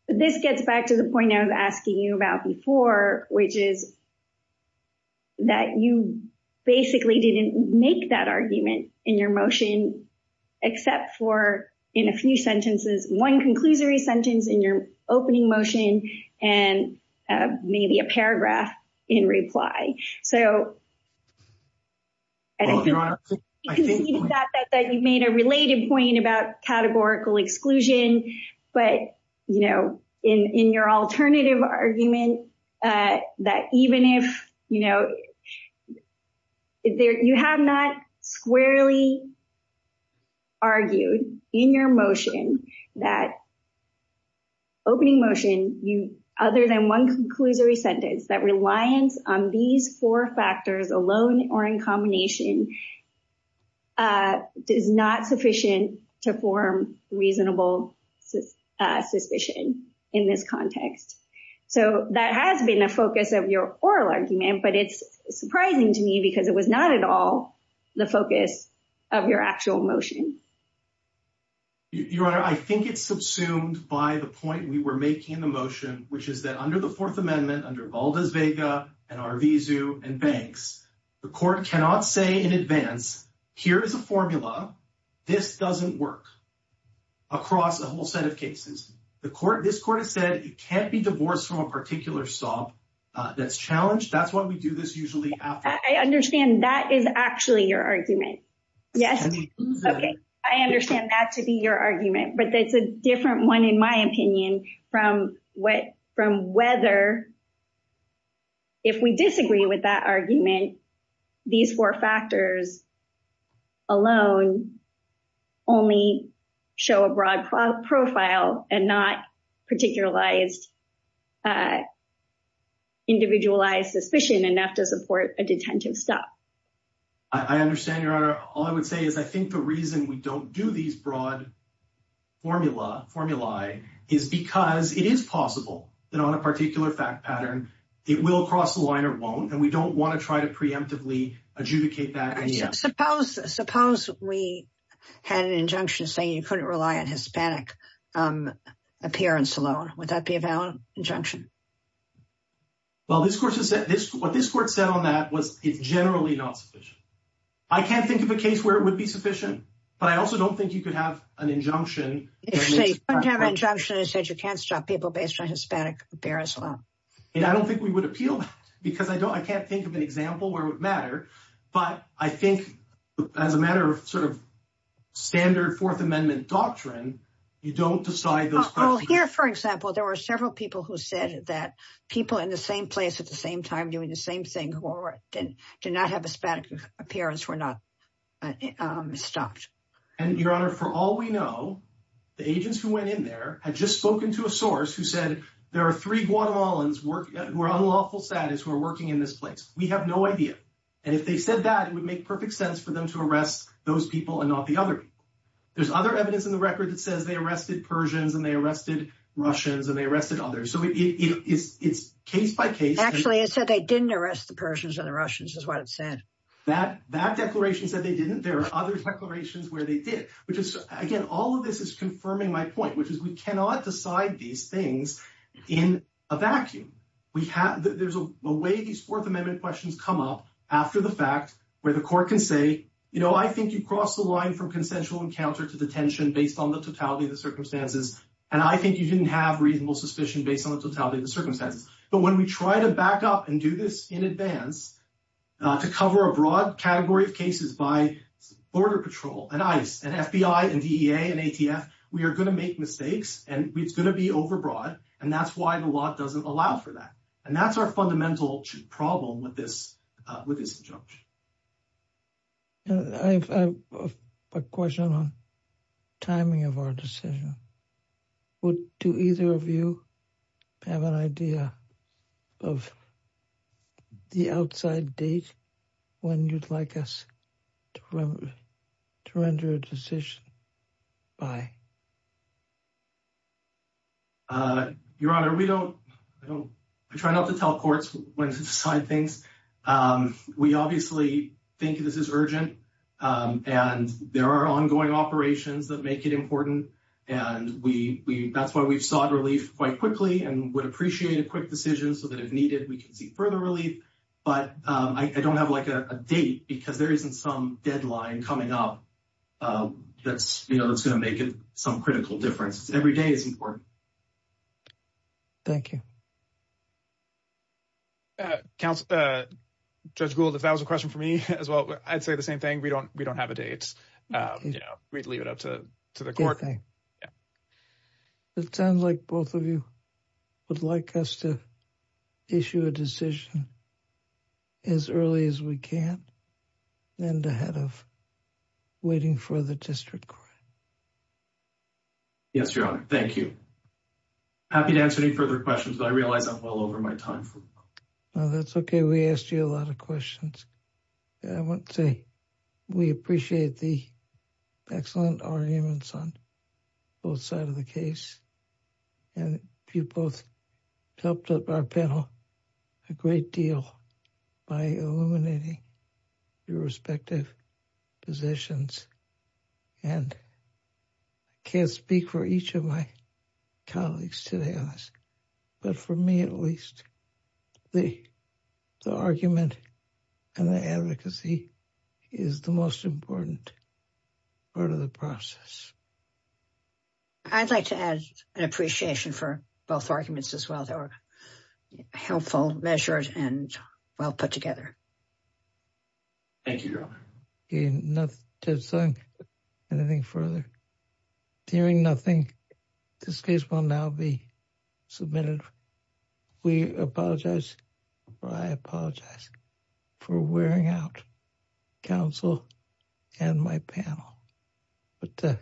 This gets back to the point I was asking you about before, which is that you basically didn't make that argument in your motion except for, in a few sentences, one conclusory sentence in your opening motion and maybe a paragraph in reply. So I think you thought that you made a related point about categorical exclusion, but in your alternative argument, that even if—you have not squarely argued in your motion that opening motion, other than one conclusory sentence, that reliance on these four factors alone or in combination is not sufficient to form reasonable suspicion in this context. So that has been a focus of your oral argument, but it's surprising to me because it was not at all the focus of your actual motion. Your Honor, I think it's subsumed by the point we were making in the motion, which is that under the Fourth Amendment, under Valdezvega and Arvizu and Banks, the court cannot say in advance, here is the formula, this doesn't work, across a whole set of cases. This court has said it can't be divorced from a particular SOB that's challenged. That's why we do this usually afterwards. I understand that is actually your argument. Yes. Okay. I understand that to be your argument, but that's a different one, in my opinion, from whether, if we disagree with that argument, these four factors alone only show a broad profile and not individualized suspicion enough to support a detention stop. I understand, Your Honor. All I would say is I think the reason we don't do these broad formulae is because it is possible that on a particular fact pattern, it will cross the line or won't, and we don't want to try to preemptively adjudicate that. Suppose we had an injunction saying you couldn't rely on Hispanic appearance alone. Would that be a valid injunction? Well, what this court said on that was it's generally not sufficient. I can't think of a case where it would be sufficient, but I also don't think you could have an injunction. If you have an injunction that says you can't stop people based on Hispanic appearance alone. And I don't think we would appeal that because I can't think of an example where it would matter, but I think as a matter of sort of standard Fourth Amendment doctrine, you don't decide this. Well, here, for example, there were several people who said that people in the same place at the same time doing the same thing who did not have Hispanic appearance were not stopped. And your Honor, for all we know, the agents who went in there had just spoken to a source who said there are three Guatemalans who are unlawful status who are working in this place. We have no idea. And if they said that it would make perfect sense for them to arrest those people and not the other. There's other evidence in the record that says they arrested Persians and they arrested Russians and they arrested others. So it's case by case. Actually, it said they didn't arrest the Persians and the Russians is what it said. That declaration said they didn't. There are other declarations where they did, which is, again, all of this is confirming my point, which is we cannot decide these things in a vacuum. There's a way these Fourth Amendment questions come up after the fact where the court can say, you know, I think you crossed the line from consensual encounter to detention based on the totality of the circumstances, and I think you didn't have reasonable suspicion based on the totality of the circumstances. But when we try to back up and do this in advance to cover a broad category of cases by Border Patrol and ICE and FBI and DEA and ATF, we are going to make mistakes and it's going to be overbroad. And that's why the law doesn't allow for that. And that's our fundamental problem with this with this injunction. I have a question on timing of our decision. Would either of you have an idea of the outside date when you'd like us to render a decision by? Your Honor, we don't try not to tell courts when to sign things. We obviously think this is urgent and there are ongoing operations that make it important. And that's why we've sought relief quite quickly and would appreciate a quick decision so that if needed, we can seek further relief. But I don't have like a date because there isn't some deadline coming up that's going to make it some critical difference. Every day is important. Thank you. Judge Gould, if that was a question for me as well, I'd say the same thing. We don't have a date. We'd leave it up to the court. It sounds like both of you would like us to issue a decision. As early as we can and ahead of waiting for the district court. Yes, Your Honor. Thank you. Happy to answer any further questions. I realized I'm all over my time. No, that's OK. We asked you a lot of questions. I would say we appreciate the excellent arguments on both sides of the case. And you both helped our panel a great deal by eliminating your respective positions. And I can't speak for each of my colleagues today, but for me at least, the argument and the advocacy is the most important part of the process. I'd like to add an appreciation for both arguments as well. They were helpful, measured, and well put together. Thank you, Your Honor. OK, not to say anything further. Hearing nothing, this case will now be submitted. We apologize. I apologize for wearing out counsel and my panel. With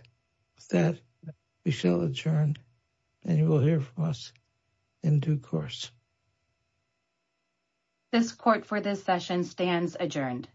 that, we shall adjourn and you will hear from us in due course. This court for this session stands adjourned.